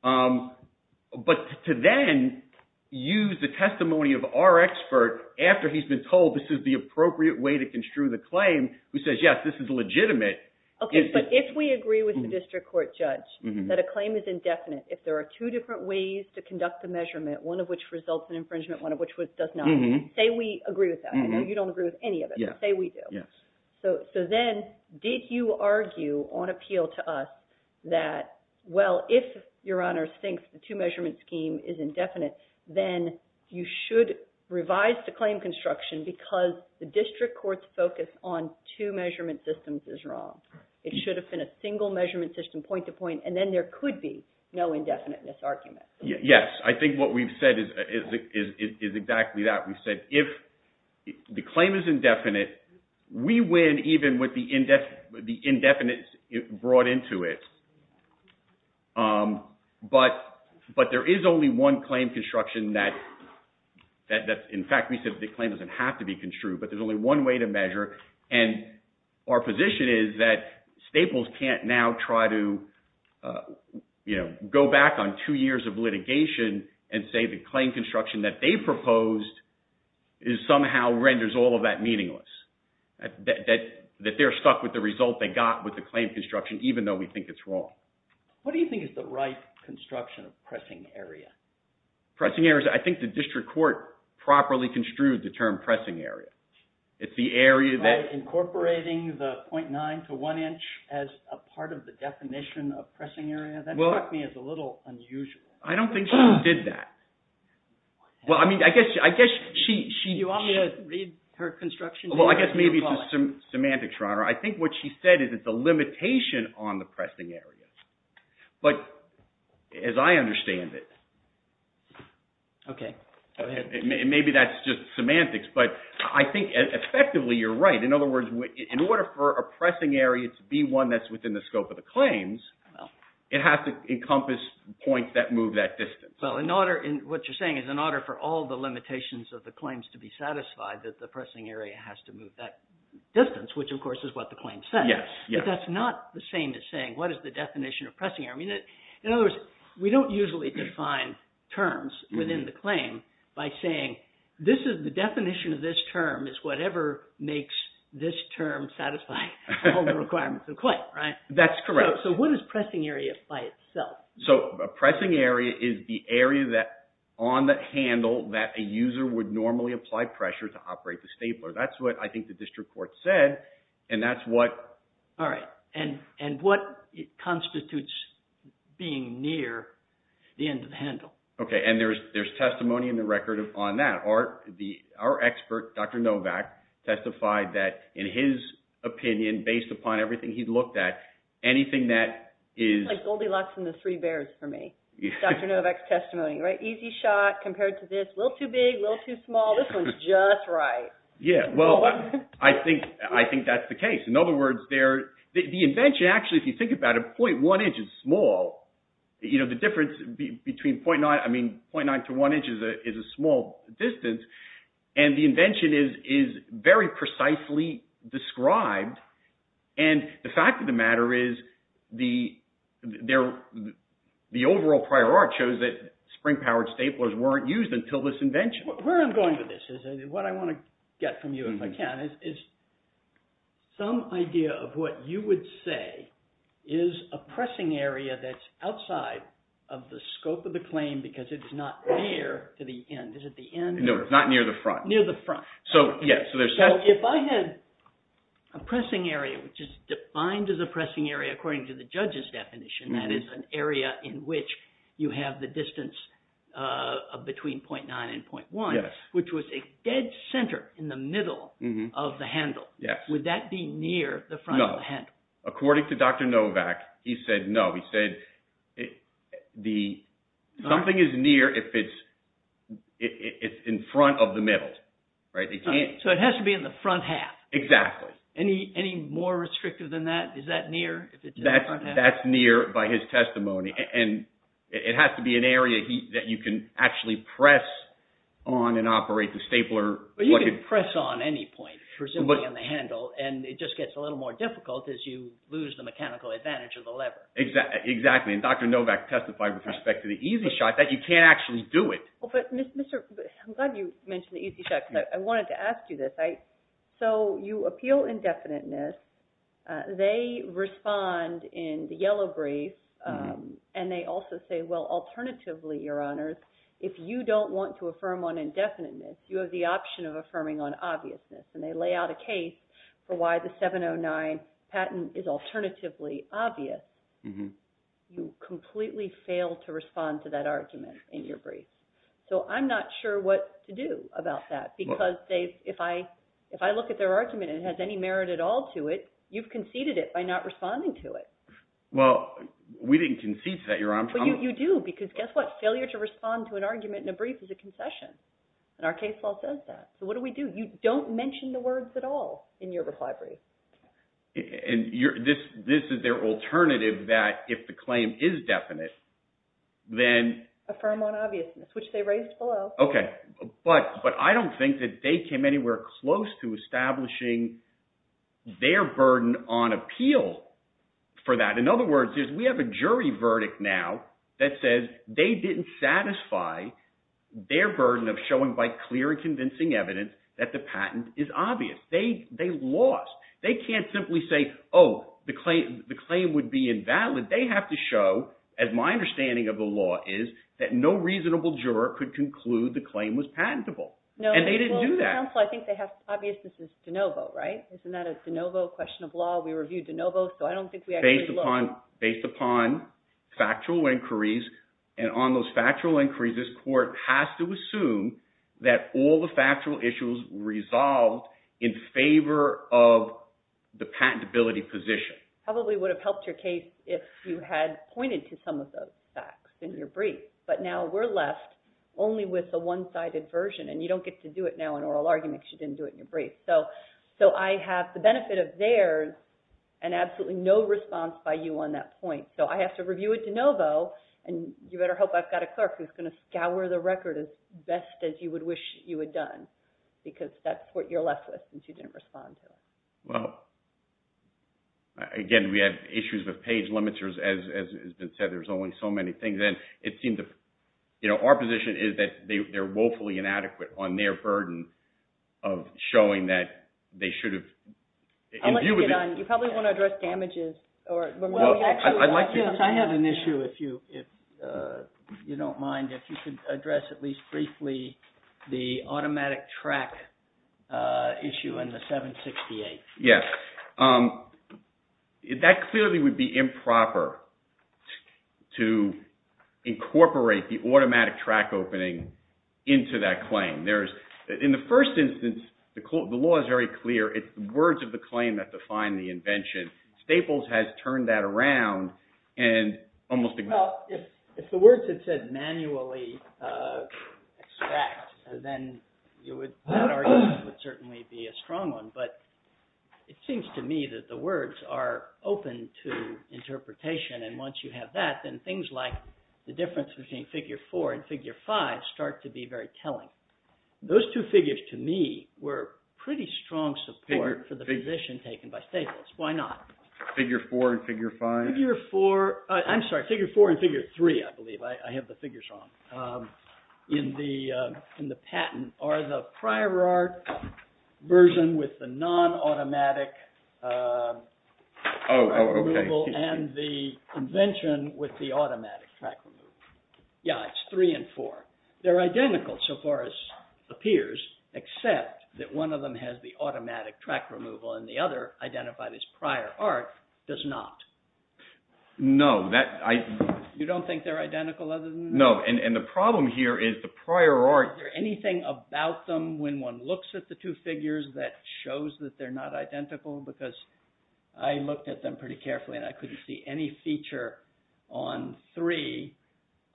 But to then use the testimony of our expert after he's been told this is the appropriate way to construe the claim, who says, yes, this is legitimate... Okay. But if we agree with the district court judge that a claim is indefinite, if there are two different ways to conduct the measurement, one of which results in infringement, one of which does not... Say we agree with that. You don't agree with any of it, but say we do. Yes. So then did you argue on appeal to us that, well, if your honor thinks the two measurement scheme is indefinite, then you should revise the claim construction because the district court's focus on two measurement systems is wrong. It should have been a single measurement system point to point, and then there could be no indefiniteness argument. Yes. I think what we've said is exactly that. We've said if the claim is indefinite, we win even with the indefinites brought into it. But there is only one claim construction that... In fact, we said the claim doesn't have to be construed, but there's only one way to measure. And our position is that Staples can't now try to go back on two years of litigation and say the claim construction that they proposed somehow renders all of that meaningless. That they're stuck with the result they got with the claim construction, even though we think it's wrong. What do you think is the right construction of pressing area? Pressing areas, I think the district court properly construed the term pressing area. It's the area that... Incorporating the 0.9 to one inch as a part of the definition of pressing area, that struck me as a little unusual. I don't think she did that. Well, I mean, I guess she... Do you want me to read her construction? Well, I guess maybe some semantics, Your Honor. I think what she said is it's a limitation on the pressing area. But as I understand it... Okay. Go ahead. Maybe that's just semantics, but I think effectively you're right. In other words, in order for a pressing area to be one that's within the scope of the claims, it has to encompass points that move that distance. Well, what you're saying is in order for all the limitations of the claims to be satisfied, that the pressing area has to move that distance, which of course is what the claim says. Yes. Yes. That's not the same as saying, what is the definition of pressing area? In other words, we don't usually define terms within the claim by saying, the definition of this term is whatever makes this term satisfying all the requirements of the claim, right? That's correct. So what is pressing area by itself? So a pressing area is the area on that handle that a user would normally apply pressure to operate the stapler. That's what I think the district court said, and that's what... All right. And what constitutes being near the end of the handle? Okay. And there's testimony in the record on that. Our expert, Dr. Novak, testified that in his opinion, based upon everything he'd looked at, anything that is... It's like Goldilocks and the three bears for me. Dr. Novak's testimony, right? Easy shot compared to this, a little too big, a little too small. This one's just right. Yeah. Well, I think that's the case. In other words, the invention, actually, if you think about it, 0.1 inch is small. The difference between 0.9... I mean, 0.9 to 1 inch is a small distance. And the invention is very precisely described. And the fact of the matter is the overall prior art shows that spring-powered staplers weren't used until this invention. Where I'm going with this is what I want to get from you, if I can, is some idea of what you would say is a pressing area that's outside of the scope of the claim because it's not near to the end. Is it the end? No, it's not near the front. Near the front. So, yeah, so there's... So if I had a pressing area, which is defined as a pressing area according to the judge's definition, that is an area in which you have distance between 0.9 and 0.1, which was a dead center in the middle of the handle. Would that be near the front of the handle? No. According to Dr. Novak, he said no. He said something is near if it's in front of the middle. Right? So it has to be in the front half. Exactly. Any more restrictive than that? Is that near? That's near by his testimony. And it has to be an area that you can actually press on and operate the stapler. But you can press on any point, presumably on the handle, and it just gets a little more difficult because you lose the mechanical advantage of the lever. Exactly. And Dr. Novak testified with respect to the EZ-Shot that you can't actually do it. Well, but, Mr., I'm glad you mentioned the EZ-Shot because I wanted to ask you this. So you appeal indefiniteness. They respond in the yellow brief, and they also say, well, alternatively, your honors, if you don't want to affirm on indefiniteness, you have the option of affirming on obviousness. And they lay out a case for why the 709 patent is alternatively obvious. You completely fail to respond to that argument in your brief. So I'm not sure what to do about that because if I look at their argument and it has any merit at all to it, you've conceded it by not responding to it. Well, we didn't concede to that, Your Honor. But you do because guess what? Failure to respond to an argument in a brief is a concession. And our case law says that. So what do we do? You don't mention the words at all in your reply brief. And this is their alternative that if the claim is definite, then... Affirm on obviousness, which they raised below. Okay. But I don't think that they came anywhere close to establishing their burden on appeal for that. In other words, we have a jury verdict now that says they didn't satisfy their burden of showing by clear and convincing evidence that the patent is obvious. They lost. They can't simply say, oh, the claim would be invalid. They have to show, as my understanding of the law is, that no reasonable juror could conclude the claim was patentable. No. And they didn't do that. Well, for example, I think they have... Obvious, this is de novo, right? Isn't that a de novo question of law? We reviewed de novo, so I don't think we actually... Based upon factual inquiries. And on those factual inquiries, this court has to assume that all the factual issues resolved in favor of the patentability position. Probably would have helped your case if you had pointed to some of those facts in your brief. But now we're left only with the one-sided version, and you don't get to do it now in oral arguments. You didn't do it in your brief. So I have the benefit of there's an absolutely no response by you on that point. So I have to review it de novo, and you better hope I've got a clerk who's going to scour the record as best as you would wish you had done, because that's what you're left with since you didn't respond to it. Well, again, we had issues with page limiters. As has been said, there's only so many things. And it seems that our position is that they're woefully inadequate on their burden of showing that they should have... I'd like to get on... You probably want to address damages or... Well, I'd like to. I have an issue if you don't mind, if you could address at least briefly the automatic track issue on the 768. Yes. That clearly would be improper to incorporate the automatic track opening into that claim. In the first instance, the law is very clear. It's the words of the claim that define the invention. Staples has turned that around and almost... If the words had said manually extract, then that argument would certainly be a strong one. But it seems to me that the words are open to interpretation. And once you have that, then things like the difference between Figure 4 and Figure 5 start to be very telling. Those two figures, to me, were pretty strong support for the position taken by Staples. Why Figure 3, I believe, I have the figures on. In the patent, are the prior art version with the non-automatic... Oh, okay. And the invention with the automatic track removal. Yeah, it's 3 and 4. They're identical so far as appears, except that one of them has the automatic track removal and the other, identified as prior art, does not. No. You don't think they're identical other than... No. And the problem here is the prior art... Is there anything about them when one looks at the two figures that shows that they're not identical? Because I looked at them pretty carefully and I couldn't see any feature on 3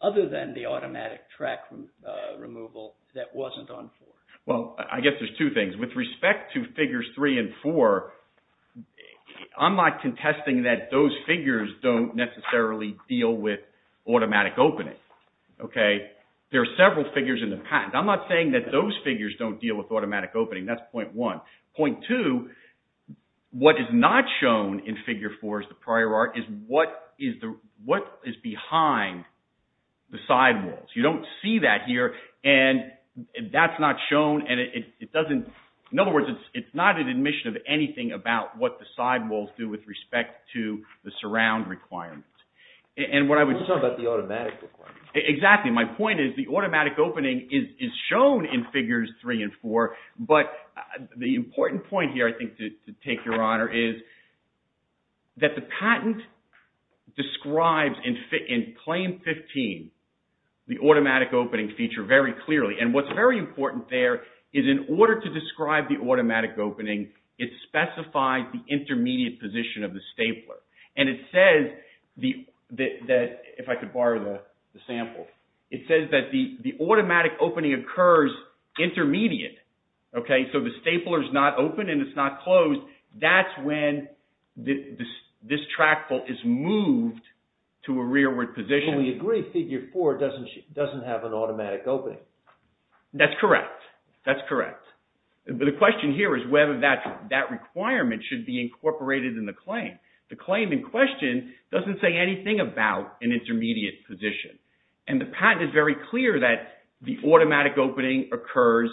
other than the automatic track removal that wasn't on 4. Well, I guess there's two things. With respect to Figures 3 and 4, I'm not contesting that those figures don't necessarily deal with automatic opening. There are several figures in the patent. I'm not saying that those figures don't deal with automatic opening. That's point one. Point two, what is not shown in Figure 4 as the prior art is what is behind the sidewalls. You don't see that here and that's not shown and it doesn't... In other words, it's not an admission of anything about what the sidewalls do with respect to the surround requirements. And what I would... It's all about the automatic requirements. Exactly. My point is the automatic opening is shown in Figures 3 and 4, but the important point here I think to take your honor is that the patent describes in Claim 15 the automatic opening feature very clearly. And what's very important there is in order to describe the automatic opening, it specifies the intermediate position of the stapler. And it says that... If I could borrow the sample. It says that the automatic opening occurs intermediate. So the stapler is not open and it's not closed. That's when this trackball is moved to a rearward position. We agree. Figure 4 doesn't have an automatic opening. That's correct. That's correct. The question here is whether that requirement should be incorporated in the claim. The claim in question doesn't say anything about an intermediate position. And the patent is very clear that the automatic opening occurs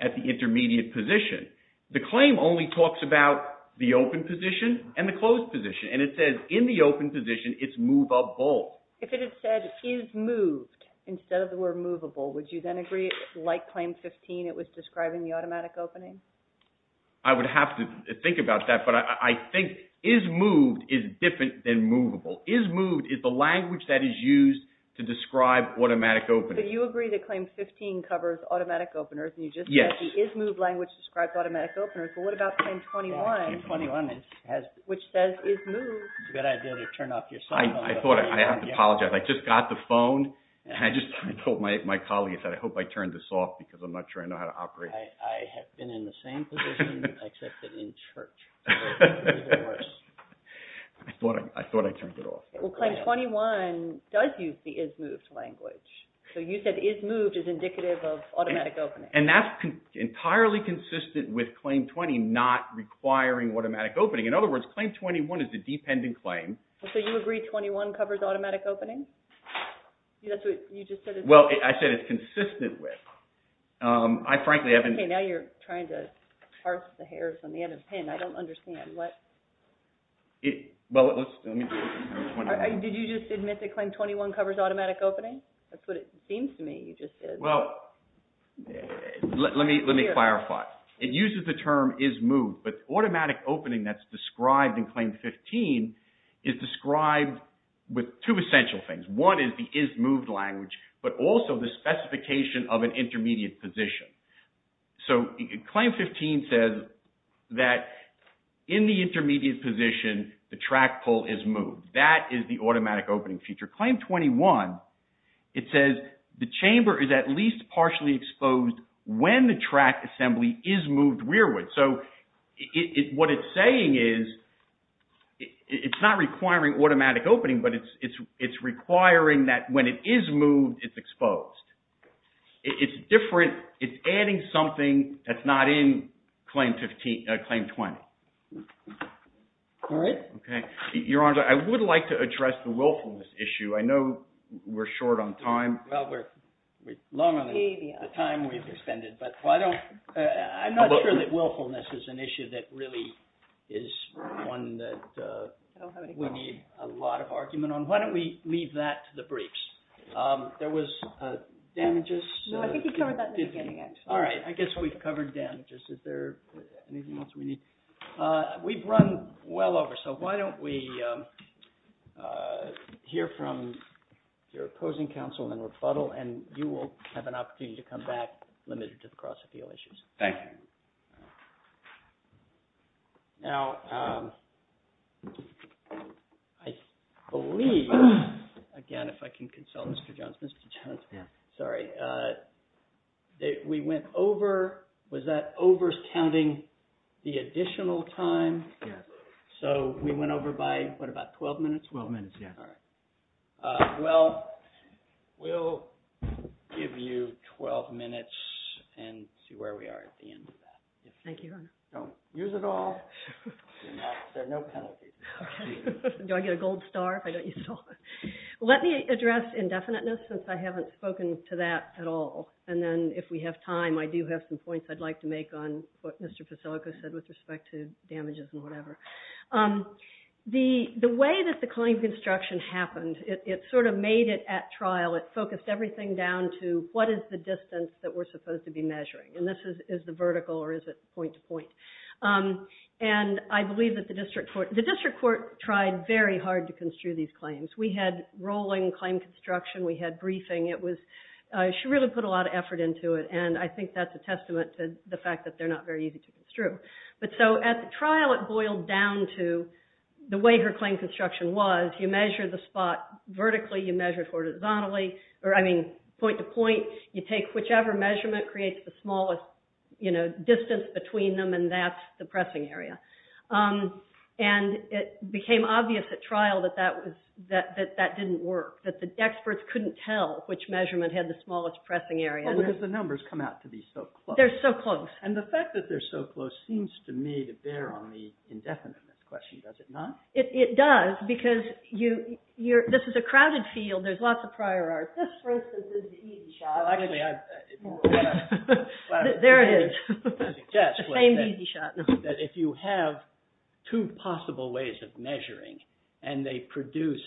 at the intermediate position. The claim only talks about the open position and the closed position. And it says in the open position it's movable. If it had said is moved instead of the word movable, would you then agree it's like Claim 15? It was describing the automatic opening? I would have to think about that. But I think is moved is different than movable. Is moved is the language that is used to describe automatic opening. So you agree that Claim 15 covers automatic openers and you just said the is moved language describes automatic openers. But what about Claim 21, which says is moved? You've got to turn off your cell phone. I thought I have to apologize. I just got the phone and I just told my colleague that I hope I turned this off because I'm not sure I know how to operate it. I have been in the same position, except that in church. I thought I turned it off. Well, Claim 21 does use the is moved language. So you said is moved is indicative of automatic opening. And that's entirely consistent with Claim 20 not requiring automatic opening. In other words, Claim 21 is a dependent claim. So you agree 21 covers automatic opening? Well, I said it's consistent with. I frankly haven't... Okay, now you're trying to parse the hairs on the end of the pen. I don't understand. What? Did you just admit that Claim 21 covers automatic opening? That's what it seems to me you just said. Well, let me clarify. It uses the term is moved, but automatic opening that's described in Claim 15 is described with two essential things. One is the is moved language, but also the specification of an intermediate position. So Claim 15 says that in the intermediate position, the track pole is moved. That is the automatic opening feature. Claim 21, it says the chamber is at least partially exposed when the track assembly is moved rearward. So what it's saying is it's not requiring automatic opening, but it's requiring that when it is moved, it's exposed. It's different. It's adding something that's not in Claim 20. All right. Okay. Your Honor, I would like to address the willfulness issue. I know we're short on time. Well, we're long on the time we've expended, but I'm not sure that willfulness is an issue that really is one that we need a lot of argument on. Why don't we leave that to the briefs? There was damages. No, I think you covered that in the beginning. All right. I guess we've covered damages. Is there anything else we need? We've run well over, so why don't we hear from your opposing counsel in rebuttal, and you will have an opportunity to come back, limited to the cross appeal issues. Thank you. Now, I believe, again, if I can consult Mr. Johnson. Sorry. We went over, was that over counting the additional time? Yeah. So we went over by what, about 12 minutes? 12 minutes, yeah. All right. Well, we'll give you 12 minutes and see where we are at the end of that. Thank you, Your Honor. Don't use it all. There are no penalties. Do I get a gold star if I don't use it all? Let me address indefiniteness, since I haven't spoken to that at all, and then if we have time, I do have some points I'd like to make on what said with respect to damages and whatever. The way that the claim construction happened, it sort of made it at trial. It focused everything down to what is the distance that we're supposed to be measuring, and this is the vertical, or is it point to point? And I believe that the district court, the district court tried very hard to construe these claims. We had rolling claim construction. We had briefing. It was, she really put a lot of effort into it, and I think that's a testament to the truth. But so at the trial, it boiled down to the way her claim construction was. You measure the spot vertically. You measure horizontally, or I mean point to point. You take whichever measurement creates the smallest distance between them, and that's the pressing area. And it became obvious at trial that that didn't work, that the experts couldn't tell which measurement had the smallest pressing area. Well, because the numbers come out to be so close. They're so close. And the fact that they're so close seems to me to bear on the indefinite question, does it not? It does, because this is a crowded field. There's lots of prior art. This is a easy shot. There it is. If you have two possible ways of measuring, and they produce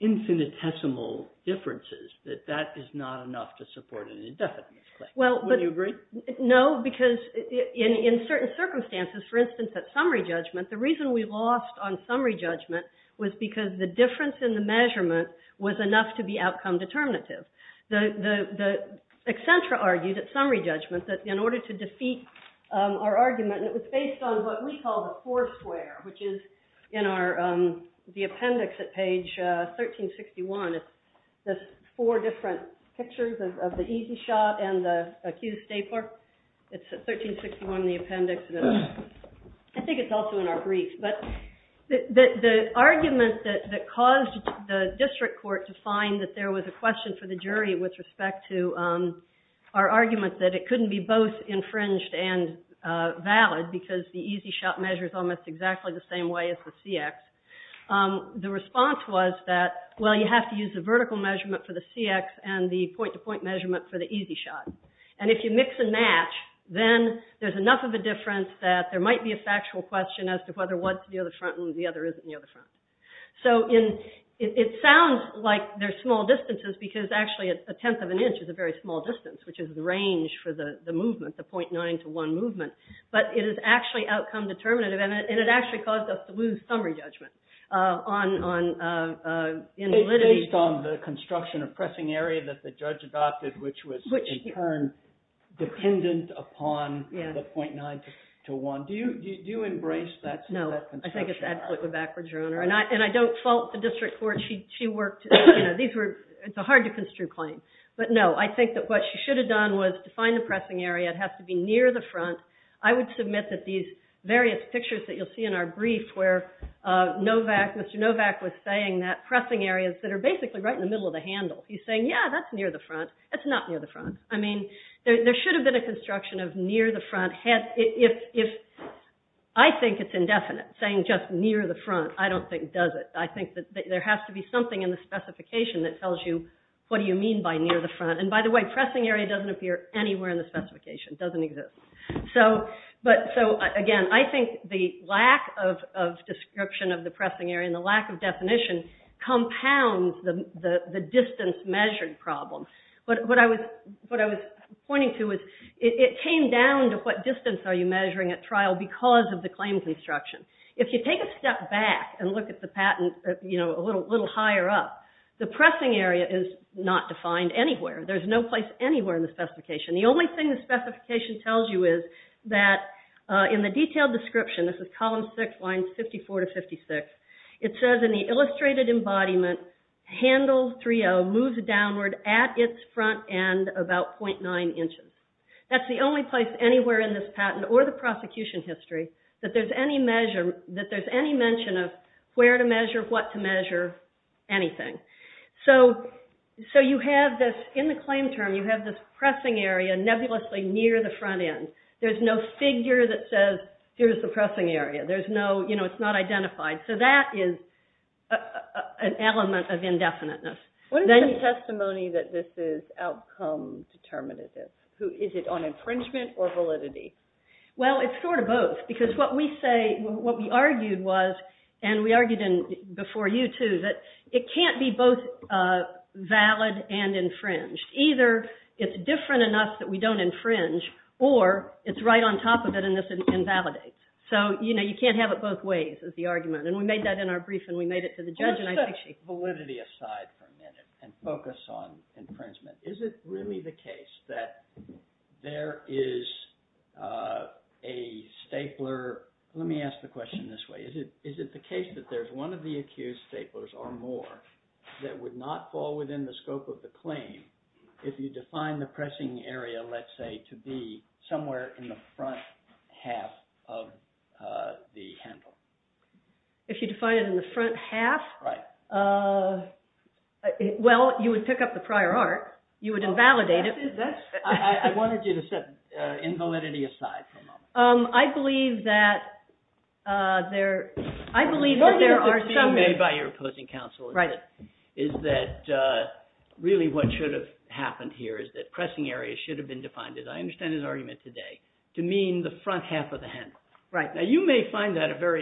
infinitesimal differences, that that is not enough to support an indefinite question. Would you agree? No, because in certain circumstances, for instance at summary judgment, the reason we lost on summary judgment was because the difference in the measurement was enough to be outcome determinative. The Accenture argued at summary judgment that in order to defeat our argument, it was based on what we call the four square, which is in the appendix at page 1361. That's four different pictures of the easy shot and the accused stapler. It's at 1361 in the appendix. I think it's also in our brief. But the argument that caused the district court to find that there was a question for the jury with respect to our argument that it couldn't be both infringed and valid, because the easy shot measures almost exactly the same way as the CX. The response was that, well, you have to use the vertical measurement for the CX and the point-to-point measurement for the easy shot. If you mix and match, then there's enough of a difference that there might be a factual question as to whether one's the other front and the other isn't the other front. It sounds like they're small distances, because actually a tenth of an inch is a very small distance, which is the range for the movement, the 0.9 to 1 movement. But it is actually outcome determinative, and it actually caused us to lose summary judgment in the litigation. Based on the construction of pressing area that the judge adopted, which was in turn dependent upon the 0.9 to 1. Do you embrace that? No, I think it's absolutely backwards, Your Honor. I don't fault the district court. It's a hard to construe claim. But no, I think that what she should have done was to find the pressing area. It has to be near the front. I would submit that these various pictures that you'll see in our brief, where Mr. Novak was saying that pressing areas that are basically right in the middle of the handle. He's saying, yeah, that's near the front. That's not near the front. I mean, there should have been a construction of near the front. If I think it's indefinite, saying just near the front, I don't think it does it. I think that there has to be something in the specification that tells you what do you mean by near the front. And by the way, pressing area doesn't appear anywhere in the specification. It doesn't exist. So again, I think the lack of description of the pressing area and the lack of definition compounds the distance measured problem. But what I was pointing to is it came down to what distance are you measuring at trial because of the claims instruction. If you take a step back and look at the patent a little higher up, the pressing area is not defined anywhere. There's no place anywhere in the specification. The only thing the specification tells you is that in the detailed description, this is column six, lines 54 to 56, it says in the illustrated embodiment, handle 3L moves downward at its front end about 0.9 inches. That's the only place anywhere in this patent or the prosecution history that there's any mention of where to measure, what to measure, anything. So you have this, in the claim term, you have this pressing area nebulously near the front end. There's no figure that says here's the pressing area. There's no, you know, it's not identified. So that is an element of indefiniteness. What is the testimony that this is outcome determinative? Is it on infringement or validity? Well, it's sort of both because what we say, what we argued was, and we argued before you too, that it can't be both valid and infringed. Either it's different enough that we don't infringe or it's right on top of it and this invalidates. So, you know, you can't have it both ways is the argument. And we made that in our brief and we made it to the judge. Validity aside for a minute and focus on infringement. Is it really the case that there is a stapler? Let me ask the question this way. Is it the case that there's one of the accused staplers or more that would not fall within the scope of the claim if you define the pressing area, let's say, to be somewhere in the front half of the handle? If you define it in the front half, well, you would pick up the prior art, you would invalidate it. I wanted you to say invalidity aside for a moment. I believe that there, I believe that there are... One of the arguments made by your opposing counsel is that really what should have happened here is that pressing area should have been defined, as I understand his argument today, to mean the front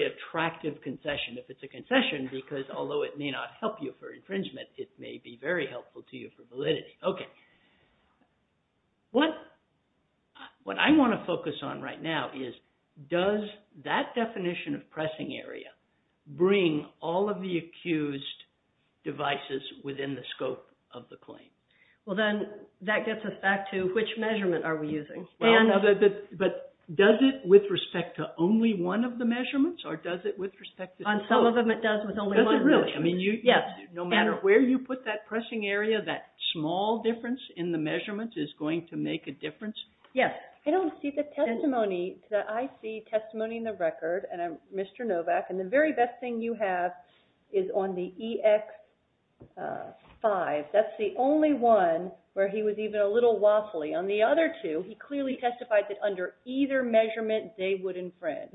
attractive concession. If it's a concession, because although it may not help you for infringement, it may be very helpful to you for validity. Okay. What I want to focus on right now is does that definition of pressing area bring all of the accused devices within the scope of the claim? Well, then that gets us back to which measurement are we using? But does it with respect to only one of the measurements or does it with respect to... On some of them, it does with only one. Does it really? I mean, no matter where you put that pressing area, that small difference in the measurements is going to make a difference? Yes. I don't see the testimony that I see testimony in the record, and I'm Mr. Novak, and the very best thing you have is on the EX-5. That's the only one where he was even a little wobbly. On the other two, he clearly testified that under either measurement, they would infringe.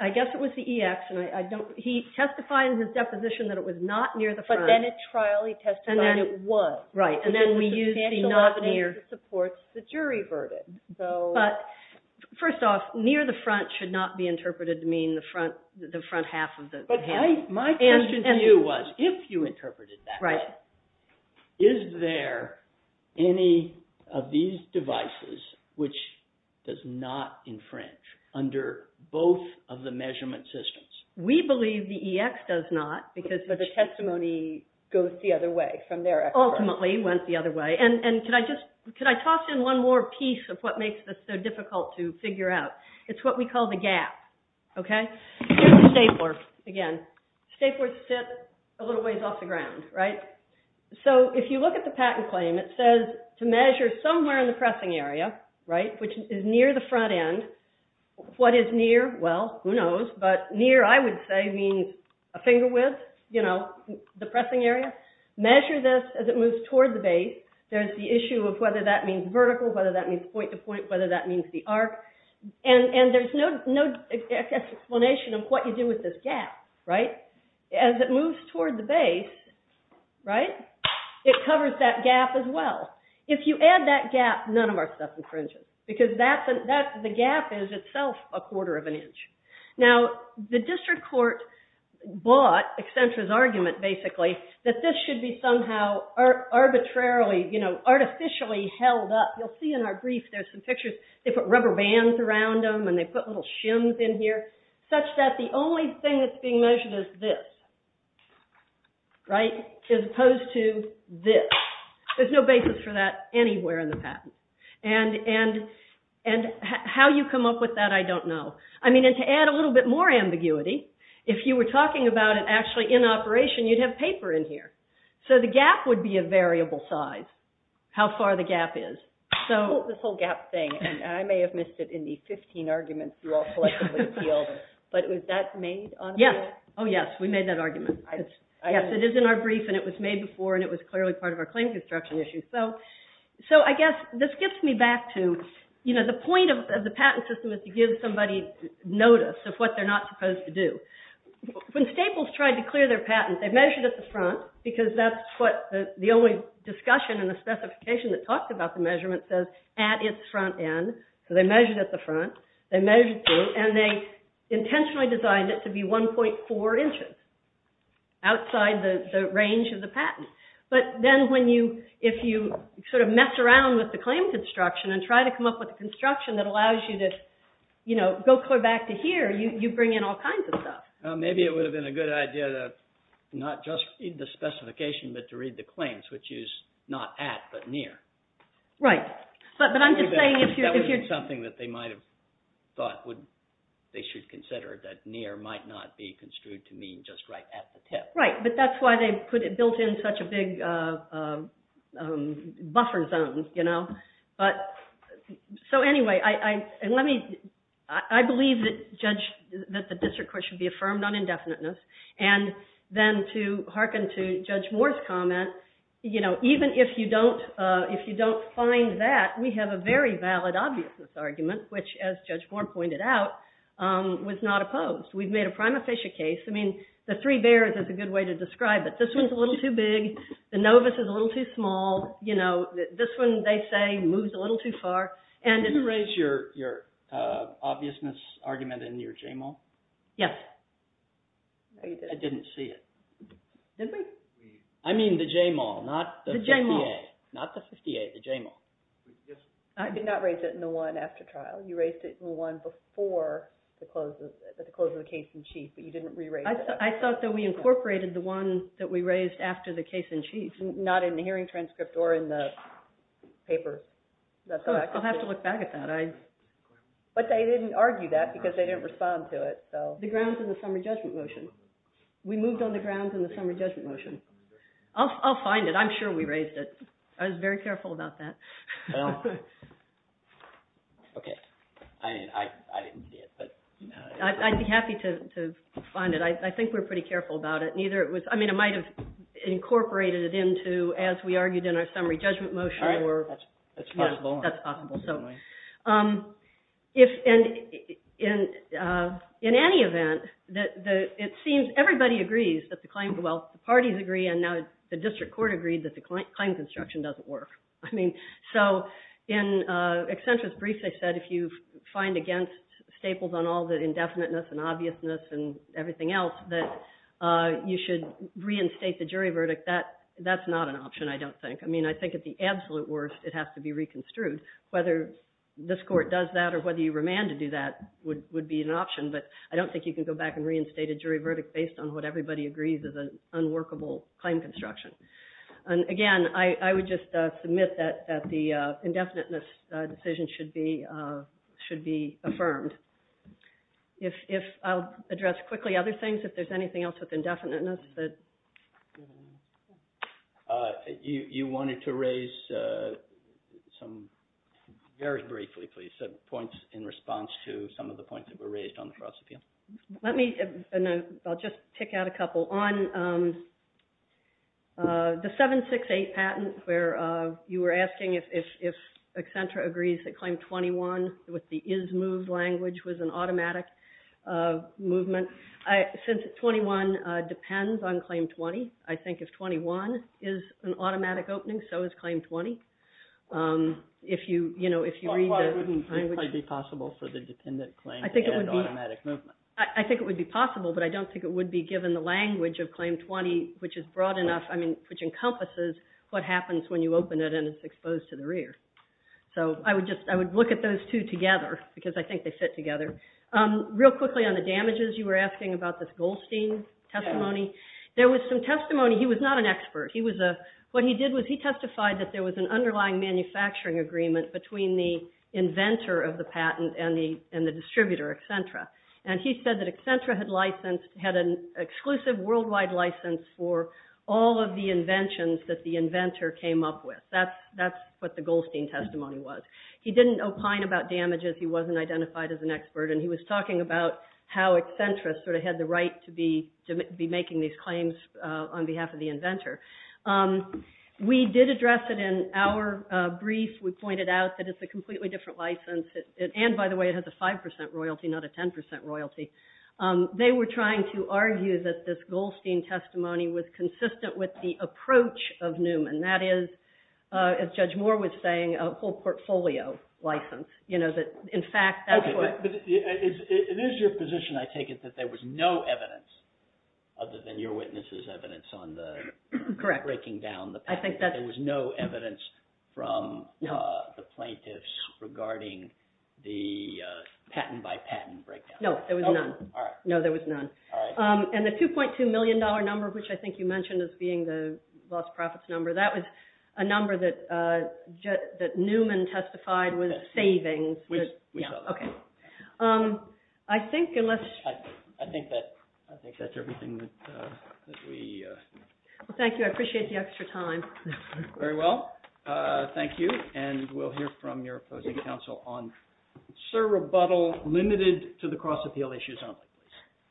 I guess it was the EX, and I don't... He testified in his deposition that it was not near the front. But then at trial, he testified it was. Right. And then we used the non-near. It supports the jury verdict, so... But first off, near the front should not be interpreted to mean the front half of the... My question to you was, if you interpreted that way, is there any of these devices which does not infringe under both of the measurement systems? We believe the EX does not because... But the testimony goes the other way from there. Ultimately, it went the other way. And could I just... Could I toss in one more piece of what makes this so difficult to figure out? It's what we call the gap, okay? Staplers, again. Staplers sit a little ways off the ground, right? So if you look at the patent claim, it says to measure somewhere in the pressing area, right, which is near the front end. What is near? Well, who knows? But near, I would say, means a finger width, you know, the pressing area. Measure this as it moves toward the base. There's the issue of whether that means vertical, whether that means point to point, whether that means... It's a combination of what you do with this gap, right? As it moves toward the base, right, it covers that gap as well. If you add that gap, none of our stuff infringes because the gap is itself a quarter of an inch. Now, the district court bought Accenture's argument basically that this should be somehow arbitrarily, you know, artificially held up. You'll see in our briefs, there's some pictures. They put rubber bands around them and they put little shims in here such that the only thing that's being measured is this, right, as opposed to this. There's no basis for that anywhere in the patent. And how you come up with that, I don't know. I mean, to add a little bit more ambiguity, if you were talking about it actually in operation, you'd have paper in here. So the gap would be a variable size, how far the gap is. So... This whole gap thing, and I may have missed it in the 15 arguments you all collected with the field, but was that made on... Yes. Oh, yes. We made that argument. Yes, it is in our brief and it was made before and it was clearly part of our claim construction issue. So I guess this gets me back to, you know, the point of the patent system is to give somebody notice of what they're not supposed to do. When Staples tried to clear their patent, they measured at the front because that's what the discussion in the specification that talks about the measurement says, at its front end. So they measured at the front, they measured through, and they intentionally designed it to be 1.4 inches outside the range of the patent. But then if you sort of mess around with the claim construction and try to come up with construction that allows you to, you know, go clear back to here, you bring in all kinds of stuff. Maybe it would have been a good idea to not just read the specification, but to read the claims, which is not at, but near. Right. But I'm just saying if you... That would be something that they might have thought they should consider, that near might not be construed to mean just right at the tip. Right. But that's why they built in such a big buffer zone, you know. So anyway, and let me... I believe that the district court should be affirmed on indefiniteness. And then to hearken to Judge Moore's comment, you know, even if you don't find that, we have a very valid obviousness argument, which, as Judge Moore pointed out, was not opposed. We've made a prima facie case. I mean, the three bears is a good way to describe it. This one's a little too big. The novice is a little too small. You know, this one, they say, moves a little too far. Did you erase your obviousness argument in your JMOL? Yes. I didn't see it. Did we? I mean, the JMOL, not the 50A. The JMOL. Not the 50A, the JMOL. I did not raise it in the one after trial. You raised it in one before the closing of the case in chief, but you didn't re-raise it. I thought that we incorporated the one that we raised after the case in chief, not in the hearing transcript or in the paper. That's what I thought. We'll have to look back at that. But they didn't argue that because they didn't respond to it. The grounds in the summary judgment motion. We moved on the grounds in the summary judgment motion. I'll find it. I'm sure we raised it. I was very careful about that. Okay. I didn't see it. I'd be happy to find it. I think we're pretty careful about it. I mean, it might have incorporated it into, as we argued in our summary judgment motion. All right. That's possible. So in any event, it seems everybody agrees that the claims, well, the parties agree, and now the district court agreed that the claims instruction doesn't work. I mean, so in Accenture's brief, they said if you find against staples on all the indefiniteness and obviousness and everything else, that you should reinstate the jury verdict. That's not an option, I don't think. I mean, I think at the absolute worst, it has to be reconstrued. Whether this court does that or whether you remand to do that would be an option, but I don't think you can go back and reinstate a jury verdict based on what everybody agrees is an unworkable claim construction. And again, I would just submit that the indefiniteness decision should be affirmed. If I'll address quickly other things, if there's anything else with indefiniteness. But you wanted to raise some very briefly, please, some points in response to some of the points that were raised on the prosecutor. Let me, and I'll just pick out a couple. On the 768 patent where you were asking if Accenture agrees that claim 21 with the is move language was an automatic movement. Since 21 depends on claim 20, I think if 21 is an automatic opening, so is claim 20. If you, you know, if you read the language. It might be possible for the dependent claim to be an automatic movement. I think it would be possible, but I don't think it would be given the language of claim 20, which is broad enough, I mean, which encompasses what happens when you open it and it's exposed to the rear. So I would just, I would look at those two together because I think they fit together. Real quickly on the damages, you were asking about this Goldstein testimony. There was some testimony, he was not an expert. He was a, what he did was he testified that there was an underlying manufacturing agreement between the inventor of the patent and the distributor, Accenture. And he said that Accenture had licensed, had an exclusive worldwide license for all of the inventions that the inventor came up with. That's what the Goldstein testimony was. He didn't opine about damages. He wasn't identified as an expert. And he was talking about how Accenture sort of had the right to be making these claims on behalf of the inventor. We did address it in our brief. We pointed out that it's a completely different license. And by the way, it has a 5% royalty, not a 10% royalty. They were trying to argue that this Goldstein testimony was consistent with the approach of Newman. That is, as Judge Moore was saying, a whole portfolio license. In fact, that's what- It is your position, I take it, that there was no evidence other than your witness's evidence on the- Correct. Breaking down the patent. I think that- There was no evidence from the plaintiffs regarding the patent by patent breakdown. No, there was none. No, there was none. And the $2.2 million number, which I think you mentioned as being the cost-profits number, that was a number that Newman testified was saving. Yes, we saw that. Okay. I think unless- I think that's everything that we- Well, thank you. I appreciate the extra time. Very well. Thank you. And we'll hear from your opposing counsel on Sir Rebuttal limited to the Cross-Appeal Issues.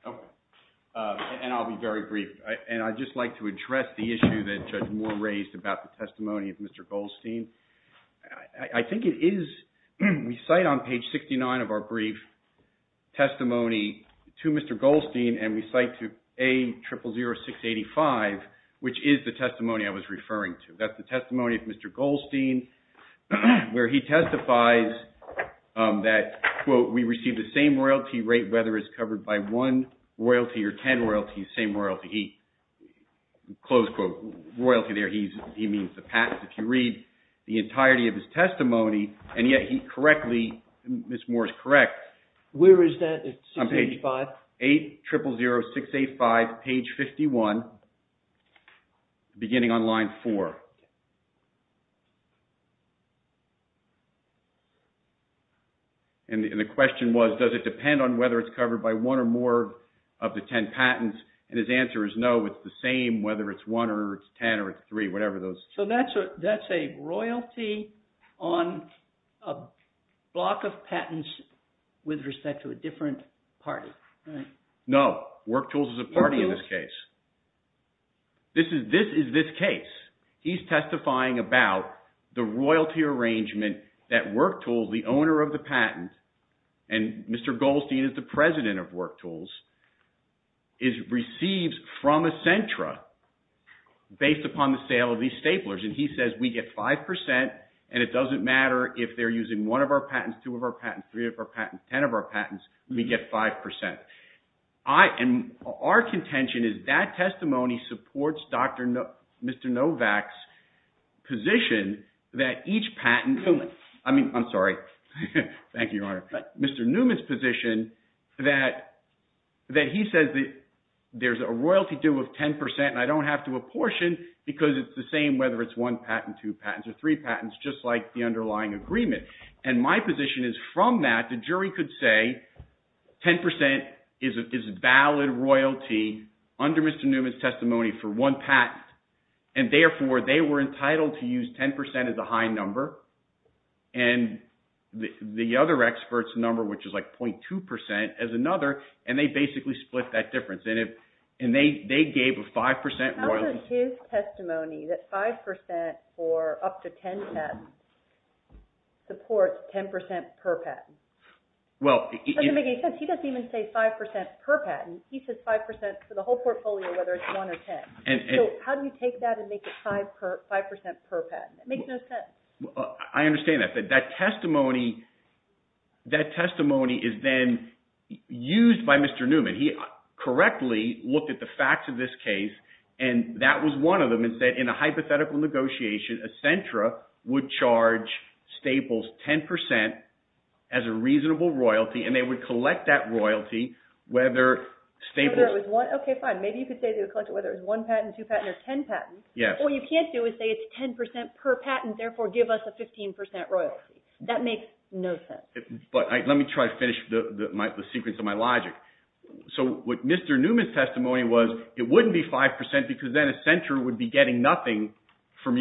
And I'll be very brief. And I'd just like to address the issue that Judge Moore raised about the testimony of Mr. Goldstein. I think it is- We cite on page 69 of our brief testimony to Mr. Goldstein and we cite to A000685, which is the testimony I was referring to. That's the testimony of Mr. Goldstein, where he testifies that, quote, we received the same royalty rate, whether it's covered by one royalty or 10 royalties, same royalty. He, close quote, royalty there, he means the patent. If you read the entirety of his testimony, and yet he correctly- Ms. Moore is correct. Where is that? It's on page 5? A000685, page 51, beginning on line 4. And the question was, does it depend on whether it's covered by one or more of the 10 patents? And his answer is no, it's the same whether it's one or it's 10 or it's three, whatever those- So that's a royalty on a block of patents with respect to a different party, right? No. WorkTools is a party in this case. This is this case. He's testifying about the royalty arrangement that WorkTools, the owner of the patent, and Mr. Goldstein is the president of WorkTools, receives from Accentra based upon the sale of these staplers. And he says, we get 5%, and it doesn't matter if they're using one of our patents, two of our patents, three of our patents, 10 of our patents, we get 5%. And our contention is that testimony supports Mr. Novak's position that each patent- I mean, I'm sorry. Thank you, Your Honor. But Mr. Newman's position that he says that there's a royalty due of 10%, and I don't have to apportion because it's the same whether it's one patent, two patents, or three patents, just like the underlying agreement. And my position is from that, the jury could say, 10% is valid royalty under Mr. Newman's testimony for one patent. And therefore, they were entitled to use 10% as a high number, and the other expert's number, which is like 0.2% as another, and they basically split that difference. And they gave a 5% royalty- How does his testimony that 5% for up to 10 patents support 10% per patent? He doesn't even say 5% per patent. He says 5% for the whole portfolio, whether it's one or 10. How do you take that and make it 5% per patent? It makes no sense. I understand that. That testimony is then used by Mr. Newman. He correctly looked at the facts of this case, and that was one of them, and said in a hypothetical negotiation, Accentra would charge Staples 10% as a reasonable royalty, and they would collect that royalty whether Staples- Okay, fine. Maybe you could say they would collect it whether it's one patent, two patents, or 10 patents. What you can't do is say it's 10% per patent, therefore give us a 15% royalty. That makes no sense. Let me try to finish the secrets of my logic. What Mr. Newman's testimony was, it wouldn't be 5% because then Accentra would be getting nothing from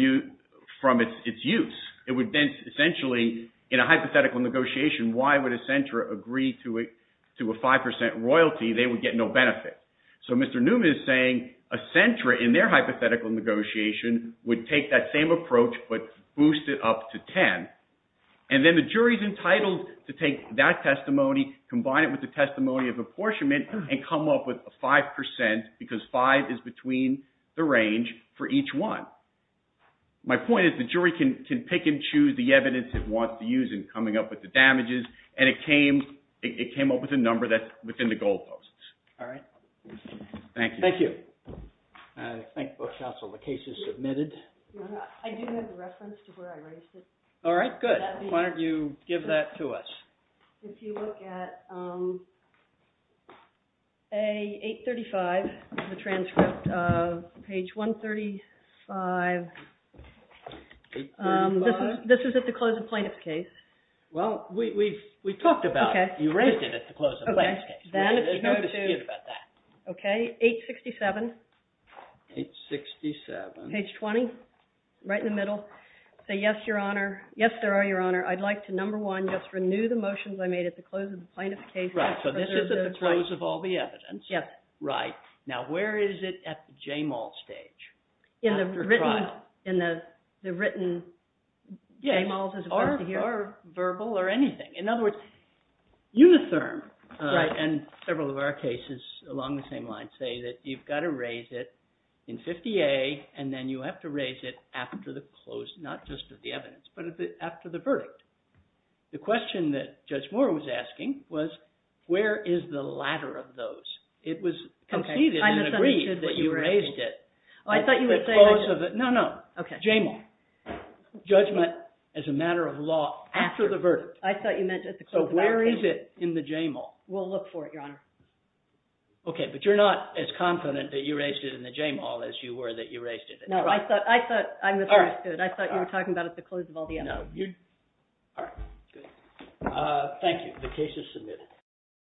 its use. It would then essentially, in a hypothetical negotiation, why would Accentra agree to a 5% royalty? They would get no benefit. Mr. Newman is saying Accentra, in their hypothetical negotiation, would take that same approach but boost it up to 10. Then the jury's entitled to take that testimony, combine it with the testimony of apportionment, and come up with a 5% because 5 is between the range for each one. My point is the jury can pick and choose the evidence it wants to use in coming up with the damages, and it came up with a number that's within the goalposts. All right. Thank you. Thank you. Thank you, counsel. The case is submitted. I do have a reference to where I raised it. All right, good. Why don't you give that to us? If you look at 835, the transcript, page 135. This was at the close of the plaintiff's case. Well, we've talked about it. You raised it at the close of the plaintiff's case. We're going to continue about that. OK, 867. 867. Page 20, right in the middle. Say, yes, your honor. Yes, sir, your honor. I'd like to, number one, just renew the motions I made at the close of the plaintiff's case. Right. So this is at the close of all the evidence. Yes. Right. Now, where is it at the JMAL stage? In the written JMALs as opposed to here. Or verbal or anything. In other words, uniform. And several of our cases along the same lines say that you've got to raise it in 50A, and then you have to raise it after the close, the question that Judge Moore was asking was, where is the latter of those? It was conceded and agreed that you raised it at the close of it. No, no. OK. JMAL. Judgment as a matter of law after the verdict. I thought you meant at the close of all the evidence. So where is it in the JMAL? We'll look for it, your honor. OK, but you're not as confident that you raised it in the JMAL as you were that you raised it at the close of all the evidence. I thought you were talking about at the close of all the evidence. No. Thank you. The case is submitted.